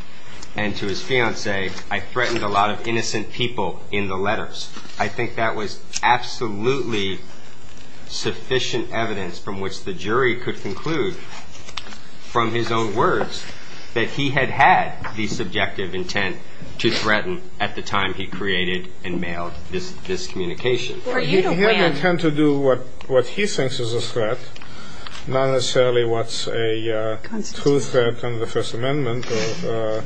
And to his fiance, I threatened a lot of innocent people in the letters. I think that was absolutely sufficient evidence from which the jury could conclude from his own words that he had had the subjective intent to threaten at the time he created and mailed this communication. He had the intent to do what he thinks is a threat, not necessarily what's a true threat under the First Amendment or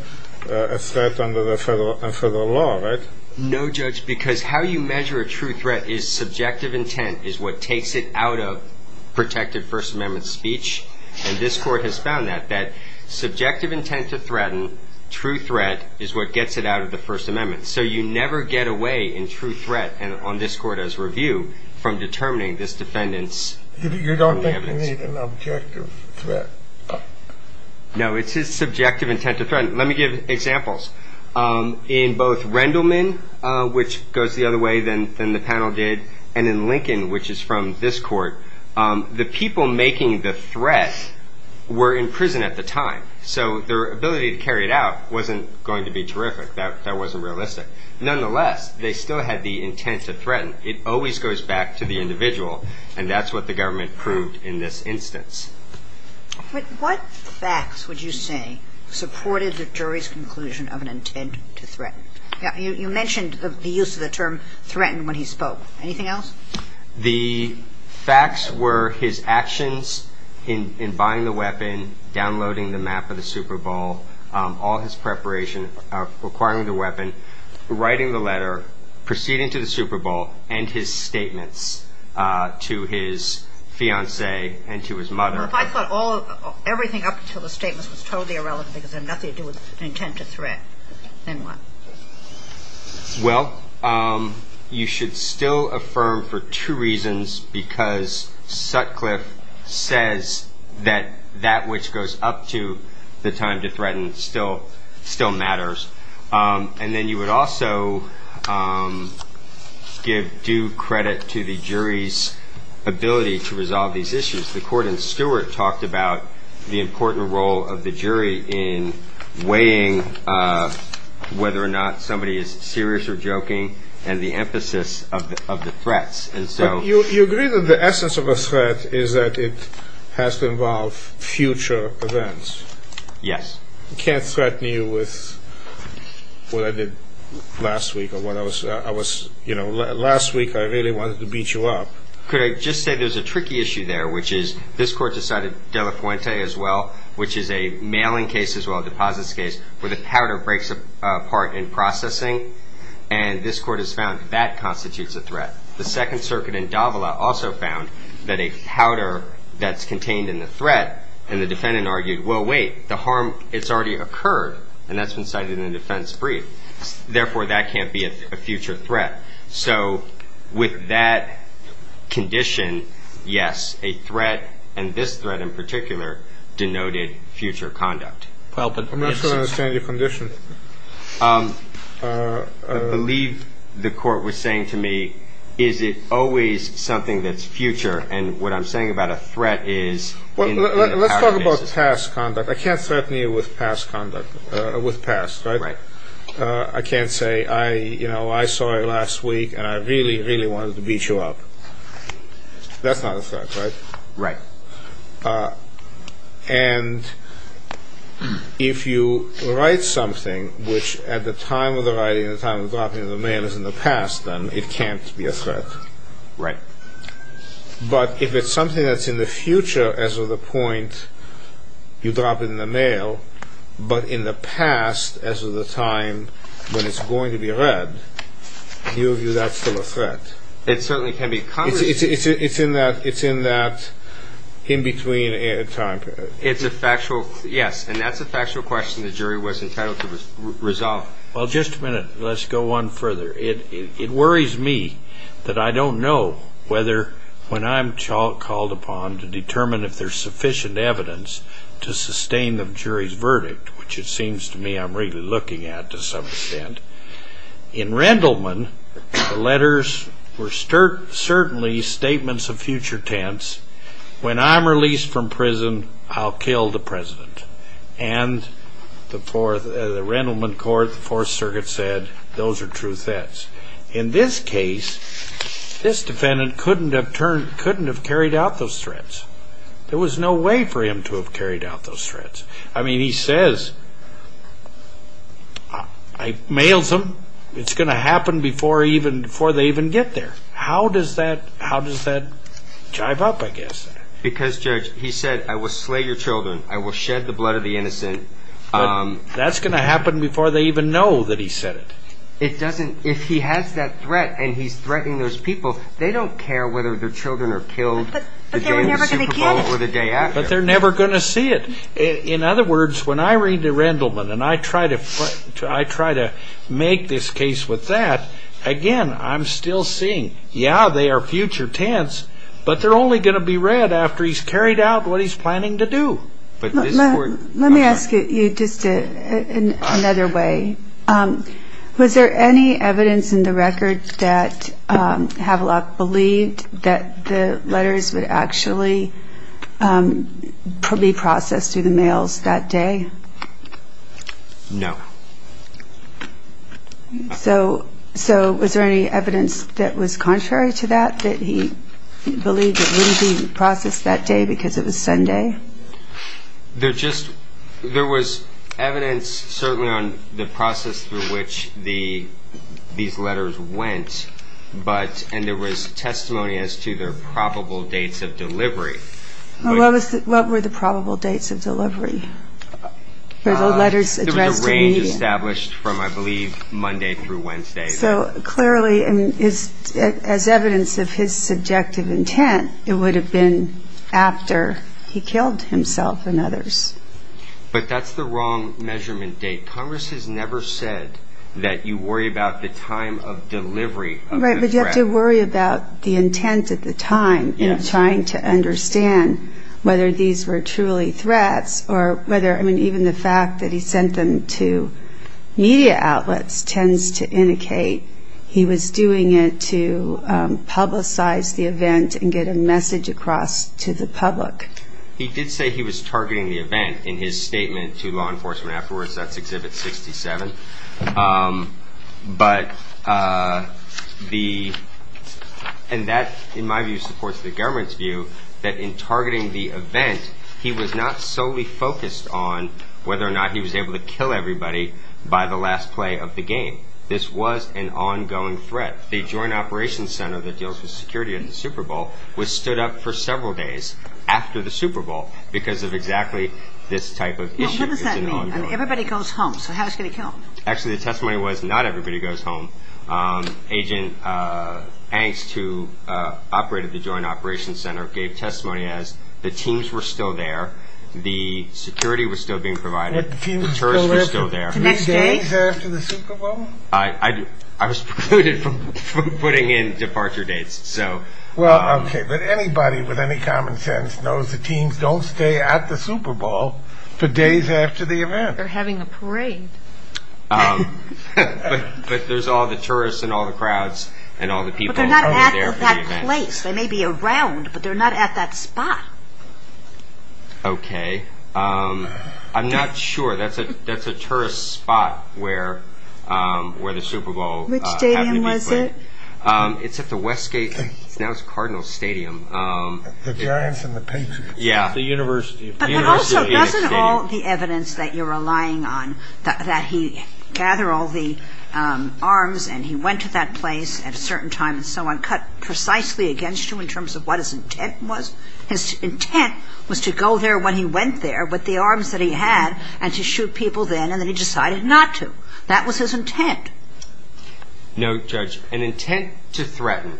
a threat under the federal law, right? No, Judge, because how you measure a true threat is subjective intent is what takes it out of protective First Amendment speech. And this Court has found that, that subjective intent to threaten, true threat is what gets it out of the First Amendment. So you never get away in true threat on this Court as review from determining this defendant's evidence. You don't think you need an objective threat? No, it's his subjective intent to threaten. Let me give examples. In both Rendleman, which goes the other way than the panel did, and in Lincoln, which is from this Court, the people making the threat were in prison at the time. So their ability to carry it out wasn't going to be terrific. That wasn't realistic. Nonetheless, they still had the intent to threaten. It always goes back to the individual, and that's what the government proved in this instance. But what facts would you say supported the jury's conclusion of an intent to threaten? You mentioned the use of the term threaten when he spoke. Anything else? The facts were his actions in buying the weapon, downloading the map of the Super Bowl, all his preparation of acquiring the weapon, writing the letter, proceeding to the Super Bowl, and his statements to his fiancée and to his mother. If I thought everything up until the statements was totally irrelevant because they had nothing to do with an intent to threat, then what? Well, you should still affirm for two reasons, because Sutcliffe says that that which goes up to the time to threaten still matters. And then you would also give due credit to the jury's ability to resolve these issues. The court in Stewart talked about the important role of the jury in weighing whether or not somebody is serious or joking and the emphasis of the threats. But you agree that the essence of a threat is that it has to involve future events. Yes. I can't threaten you with what I did last week. Last week I really wanted to beat you up. Could I just say there's a tricky issue there, which is this court decided Delafuente as well, which is a mailing case as well, a deposits case, where the powder breaks apart in processing, and this court has found that constitutes a threat. The Second Circuit in Davila also found that a powder that's contained in the threat, and the defendant argued, well, wait, the harm, it's already occurred, and that's been cited in the defense brief. Therefore, that can't be a future threat. So with that condition, yes, a threat, and this threat in particular, denoted future conduct. I'm not sure I understand your condition. I believe the court was saying to me, is it always something that's future, and what I'm saying about a threat is in the past. Well, let's talk about past conduct. I can't threaten you with past conduct, with past, right? Right. I can't say, you know, I saw you last week and I really, really wanted to beat you up. That's not a threat, right? Right. And if you write something which at the time of the writing, at the time of dropping it in the mail, is in the past, then it can't be a threat. Right. But if it's something that's in the future as of the point you drop it in the mail, but in the past as of the time when it's going to be read, do you view that still a threat? It certainly can be. It's in that in-between time period. It's a factual, yes, and that's a factual question the jury was entitled to resolve. Well, just a minute. Let's go on further. It worries me that I don't know whether when I'm called upon to determine if there's sufficient evidence to sustain the jury's verdict, which it seems to me I'm really looking at to some extent, in Rendleman, the letters were certainly statements of future tense. When I'm released from prison, I'll kill the president. And the Rendleman court, the Fourth Circuit said those are true threats. In this case, this defendant couldn't have carried out those threats. There was no way for him to have carried out those threats. I mean, he says, I mailed them. It's going to happen before they even get there. How does that jive up, I guess? Because, Judge, he said, I will slay your children. I will shed the blood of the innocent. That's going to happen before they even know that he said it. If he has that threat and he's threatening those people, they don't care whether their children are killed the day in the Super Bowl or the day after. But they're never going to see it. In other words, when I read the Rendleman and I try to make this case with that, again, I'm still seeing, yeah, they are future tense, but they're only going to be read after he's carried out what he's planning to do. Let me ask you just another way. Was there any evidence in the record that Havelock believed that the letters would actually be processed through the mails that day? No. So was there any evidence that was contrary to that, that he believed it wouldn't be processed that day because it was Sunday? There was evidence, certainly, on the process through which these letters went, and there was testimony as to their probable dates of delivery. What were the probable dates of delivery for the letters addressed to the media? There was a range established from, I believe, Monday through Wednesday. So clearly, as evidence of his subjective intent, it would have been after he killed himself and others. But that's the wrong measurement date. Congress has never said that you worry about the time of delivery of the threat. Right, but you have to worry about the intent at the time in trying to understand whether these were truly threats or whether, I mean, even the fact that he sent them to media outlets tends to indicate he was doing it to publicize the event and get a message across to the public. He did say he was targeting the event in his statement to law enforcement afterwards. That's Exhibit 67. And that, in my view, supports the government's view that in targeting the event, he was not solely focused on whether or not he was able to kill everybody by the last play of the game. This was an ongoing threat. The Joint Operations Center that deals with security at the Super Bowl was stood up for several days after the Super Bowl because of exactly this type of issue. Now, what does that mean? I mean, everybody goes home, so how is he going to kill them? Actually, the testimony was not everybody goes home. Agent Angst, who operated the Joint Operations Center, gave testimony as the teams were still there, the security was still being provided, the tourists were still there. The teams were still there the next day? Days after the Super Bowl? I was precluded from putting in departure dates. Well, okay, but anybody with any common sense knows the teams don't stay at the Super Bowl for days after the event. They're having a parade. But there's all the tourists and all the crowds and all the people who were there for the event. They're not at that place. They may be around, but they're not at that spot. Okay. I'm not sure. That's a tourist spot where the Super Bowl happened to be played. Which stadium was it? It's at the Westgate, now it's Cardinal Stadium. The Giants and the Patriots. Yeah, the University. But also, doesn't all the evidence that you're relying on, that he gathered all the arms and he went to that place at a certain time and so on, does that cut precisely against you in terms of what his intent was? His intent was to go there when he went there with the arms that he had and to shoot people then, and then he decided not to. That was his intent. No, Judge, an intent to threaten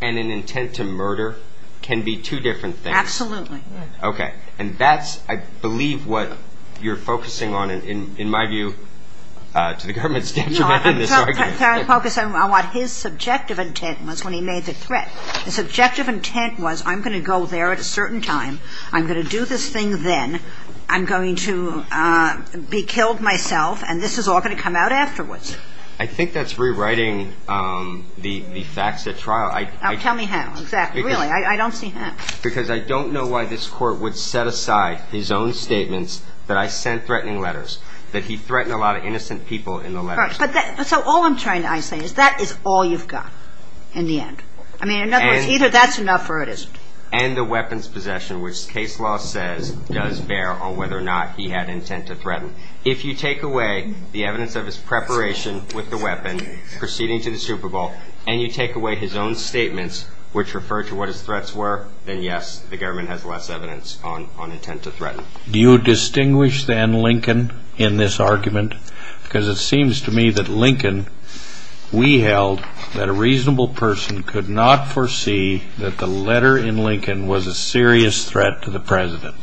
and an intent to murder can be two different things. Absolutely. Okay. And that's, I believe, what you're focusing on, in my view, to the government's detriment. I'm trying to focus on what his subjective intent was when he made the threat. His subjective intent was, I'm going to go there at a certain time, I'm going to do this thing then, I'm going to be killed myself, and this is all going to come out afterwards. I think that's rewriting the facts at trial. Tell me how. Exactly. Really, I don't see how. Because I don't know why this court would set aside his own statements that I sent threatening letters, that he threatened a lot of innocent people in the letters. So all I'm trying to say is that is all you've got in the end. I mean, in other words, either that's enough or it isn't. And the weapons possession, which case law says does bear on whether or not he had intent to threaten. If you take away the evidence of his preparation with the weapon, proceeding to the Super Bowl, and you take away his own statements, which refer to what his threats were, then, yes, the government has less evidence on intent to threaten. Do you distinguish, then, Lincoln in this argument? Because it seems to me that Lincoln, we held, that a reasonable person could not foresee that the letter in Lincoln was a serious threat to the president,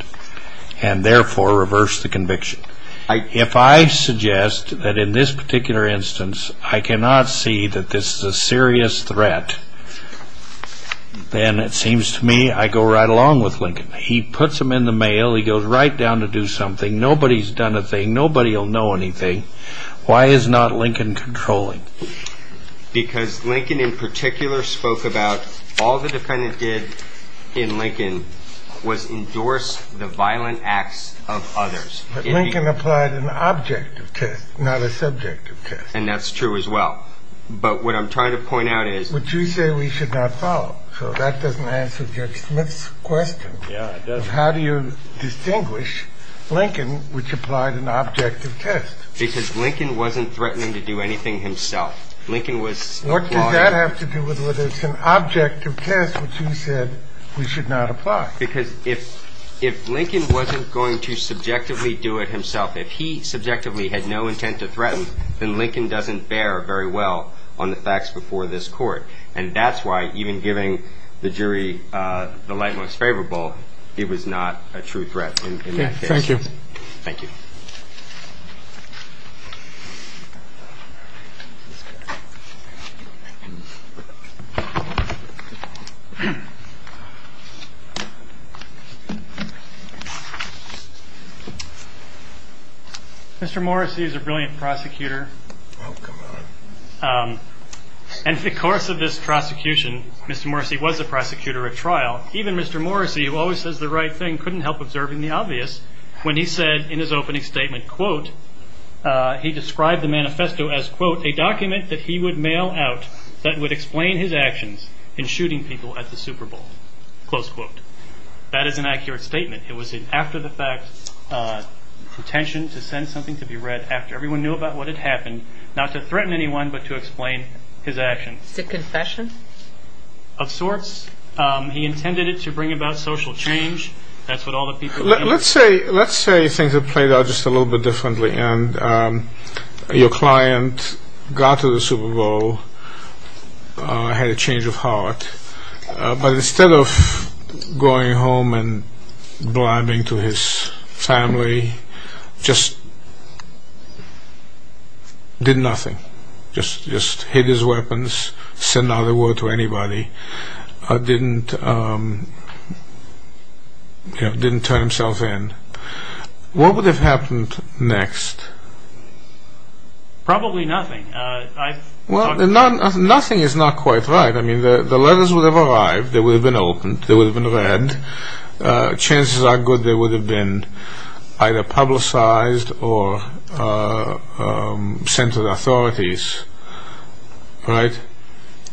and therefore reverse the conviction. If I suggest that in this particular instance I cannot see that this is a serious threat, then it seems to me I go right along with Lincoln. He puts them in the mail. He goes right down to do something. Nobody's done a thing. Nobody will know anything. Why is not Lincoln controlling? Because Lincoln, in particular, spoke about all the defendant did in Lincoln was endorse the violent acts of others. But Lincoln applied an objective test, not a subjective test. And that's true as well. But what I'm trying to point out is... But you say we should not follow. So that doesn't answer Judge Smith's question. How do you distinguish Lincoln, which applied an objective test? Because Lincoln wasn't threatening to do anything himself. What does that have to do with whether it's an objective test, which you said we should not apply? Because if Lincoln wasn't going to subjectively do it himself, if he subjectively had no intent to threaten, then Lincoln doesn't bear very well on the facts before this court. And that's why even giving the jury the light most favorable, it was not a true threat in that case. Thank you. Mr. Morrissey is a brilliant prosecutor. And in the course of this prosecution, Mr. Morrissey was a prosecutor at trial. Even Mr. Morrissey, who always says the right thing, couldn't help observing the obvious when he said in his opening statement, quote, he described the manifesto as, quote, a document that he would mail out that would explain his actions in shooting people at the Super Bowl. Close quote. That is an accurate statement. It was an after-the-fact intention to send something to be read after everyone knew about what had happened, not to threaten anyone, but to explain his actions. Is it a confession? Of sorts. He intended it to bring about social change. Let's say things had played out just a little bit differently, and your client got to the Super Bowl, had a change of heart, but instead of going home and blabbing to his family, just did nothing. Just hid his weapons, said not a word to anybody. Didn't turn himself in. What would have happened next? Probably nothing. Nothing is not quite right. The letters would have arrived, they would have been opened, they would have been read. Chances are good they would have been either publicized or sent to the authorities. Right.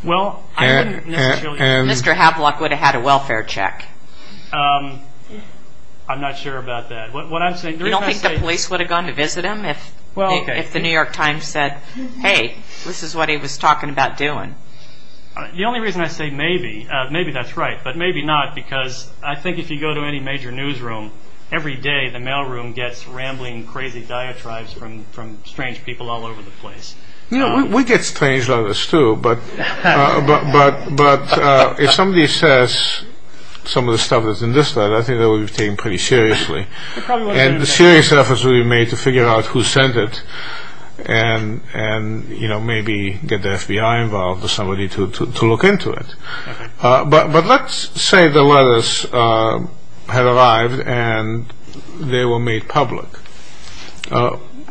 Mr. Havlock would have had a welfare check. I'm not sure about that. You don't think the police would have gone to visit him if the New York Times said, hey, this is what he was talking about doing? The only reason I say maybe, maybe that's right, but maybe not, because I think if you go to any major newsroom, every day the mailroom gets rambling crazy diatribes from strange people all over the place. We get strange letters, too, but if somebody says some of the stuff that's in this letter, I think that would be taken pretty seriously, and serious efforts would be made to figure out who sent it and maybe get the FBI involved or somebody to look into it. But let's say the letters had arrived and they were made public.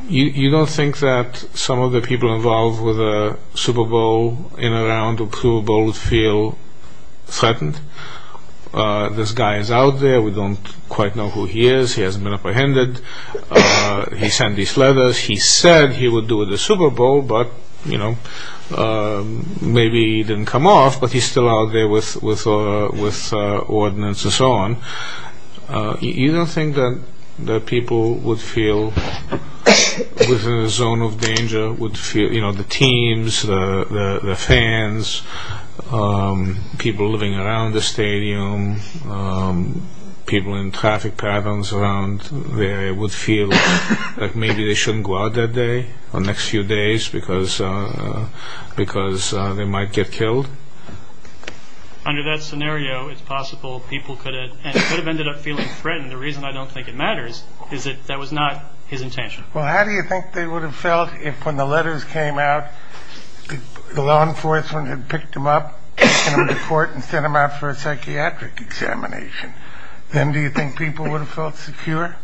You don't think that some of the people involved with a Super Bowl, in and around a Super Bowl, would feel threatened? This guy is out there, we don't quite know who he is, he hasn't been apprehended, he sent these letters, he said he would do the Super Bowl, but maybe he didn't come off, but he's still out there with ordinances on. You don't think that people would feel within a zone of danger, the teams, the fans, people living around the stadium, people in traffic patterns around the area would feel like maybe they shouldn't go out that day, or the next few days, because they might get killed? Under that scenario, it's possible people could have ended up feeling threatened. The reason I don't think it matters is that that was not his intention. Well, how do you think they would have felt if, when the letters came out, the law enforcement had picked them up, taken them to court, and sent them out for a psychiatric examination? Then do you think people would have felt secure?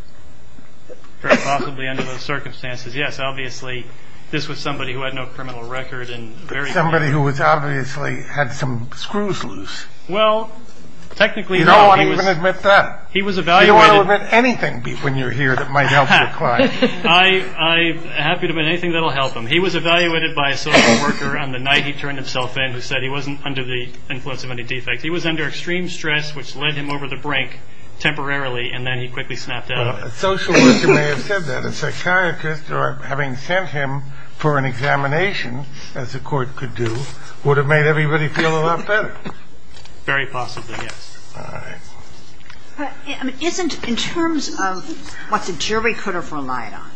Possibly under those circumstances, yes. Obviously, this was somebody who had no criminal record. Somebody who obviously had some screws loose. You don't want to even admit that. You don't want to admit anything when you're here that might help your client. I'm happy to admit anything that will help him. He was evaluated by a social worker on the night he turned himself in, who said he wasn't under the influence of any defects. He was under extreme stress, which led him over the brink temporarily, and then he quickly snapped out of it. A social worker may have said that. A psychiatrist, having sent him for an examination, as the court could do, would have made everybody feel a lot better. Very possibly, yes. All right. But isn't, in terms of what the jury could have relied on,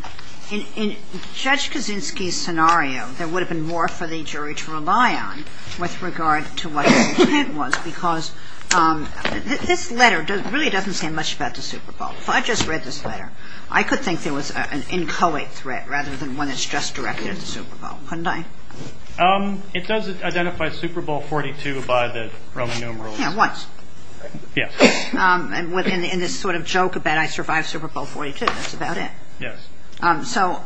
in Judge Kaczynski's scenario, there would have been more for the jury to rely on with regard to what his intent was, because this letter really doesn't say much about the Super Bowl. If I just read this letter, I could think there was an inchoate threat rather than one that's just directed at the Super Bowl, couldn't I? It does identify Super Bowl XLII by the Roman numeral. Yeah, once. Yes. In this sort of joke about, I survived Super Bowl XLII, that's about it. Yes. So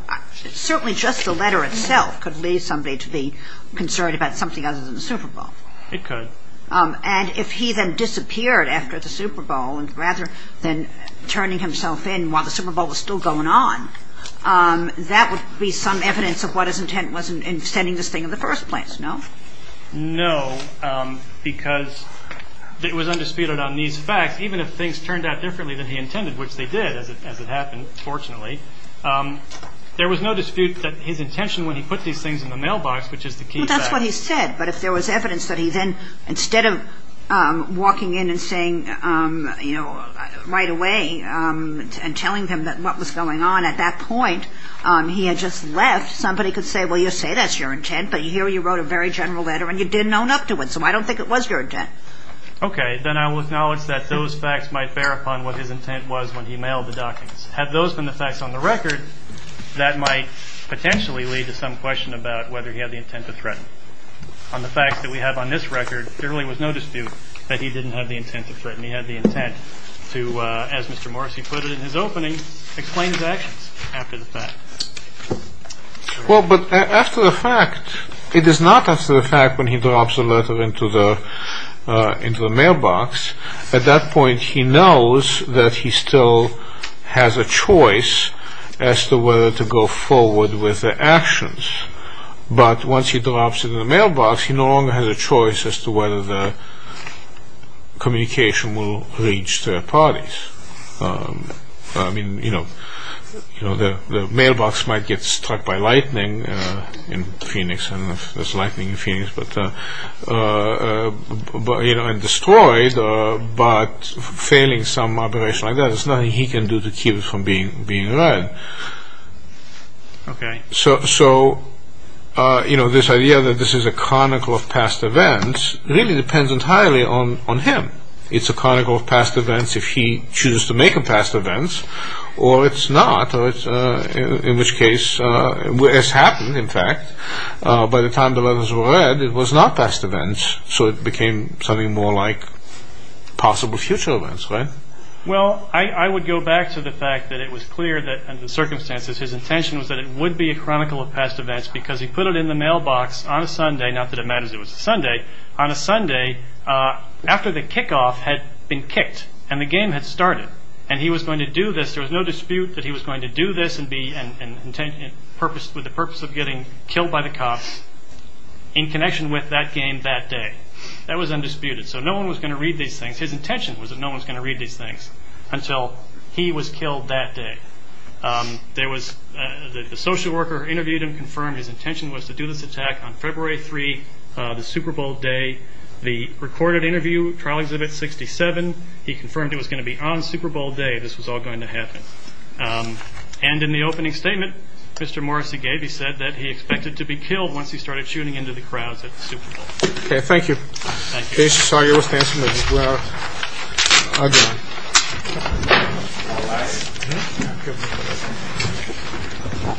certainly just the letter itself could lead somebody to be concerned about something other than the Super Bowl. It could. And if he then disappeared after the Super Bowl, rather than turning himself in while the Super Bowl was still going on, that would be some evidence of what his intent was in sending this thing in the first place, no? No, because it was undisputed on these facts, even if things turned out differently than he intended, which they did, as it happened, fortunately. There was no dispute that his intention when he put these things in the mailbox, which is the key fact. That's what he said. But if there was evidence that he then, instead of walking in and saying, you know, right away and telling them what was going on at that point, he had just left, somebody could say, well, you say that's your intent, but here you wrote a very general letter and you didn't own up to it. So I don't think it was your intent. Okay. Then I will acknowledge that those facts might bear upon what his intent was when he mailed the documents. Had those been the facts on the record, that might potentially lead to some question about whether he had the intent to threaten. On the facts that we have on this record, there really was no dispute that he didn't have the intent to threaten. He had the intent to, as Mr. Morrissey put it in his opening, explain his actions after the fact. Well, but after the fact, it is not after the fact when he drops the letter into the mailbox. At that point, he knows that he still has a choice as to whether to go forward with the actions. But once he drops it in the mailbox, he no longer has a choice as to whether the communication will reach third parties. I mean, you know, the mailbox might get struck by lightning in Phoenix, and destroyed, but failing some operation like that, there's nothing he can do to keep it from being read. Okay. So, you know, this idea that this is a chronicle of past events really depends entirely on him. It's a chronicle of past events if he chooses to make them past events, or it's not, in which case, as happened, in fact, by the time the letters were read, it was not past events, so it became something more like possible future events, right? Well, I would go back to the fact that it was clear that, under the circumstances, his intention was that it would be a chronicle of past events, because he put it in the mailbox on a Sunday, not that it matters it was a Sunday. On a Sunday, after the kickoff had been kicked, and the game had started, and he was going to do this, there was no dispute that he was going to do this with the purpose of getting killed by the cops in connection with that game that day. That was undisputed. So no one was going to read these things. His intention was that no one was going to read these things until he was killed that day. The social worker interviewed him confirmed his intention was to do this attack on February 3, the Super Bowl day. The recorded interview, trial exhibit 67, he confirmed it was going to be on Super Bowl day. This was all going to happen. And in the opening statement Mr. Morrissey gave, he said that he expected to be killed once he started shooting into the crowds at the Super Bowl. Okay, thank you. Thank you. I'm sorry I was dancing with you. Well, I'm done.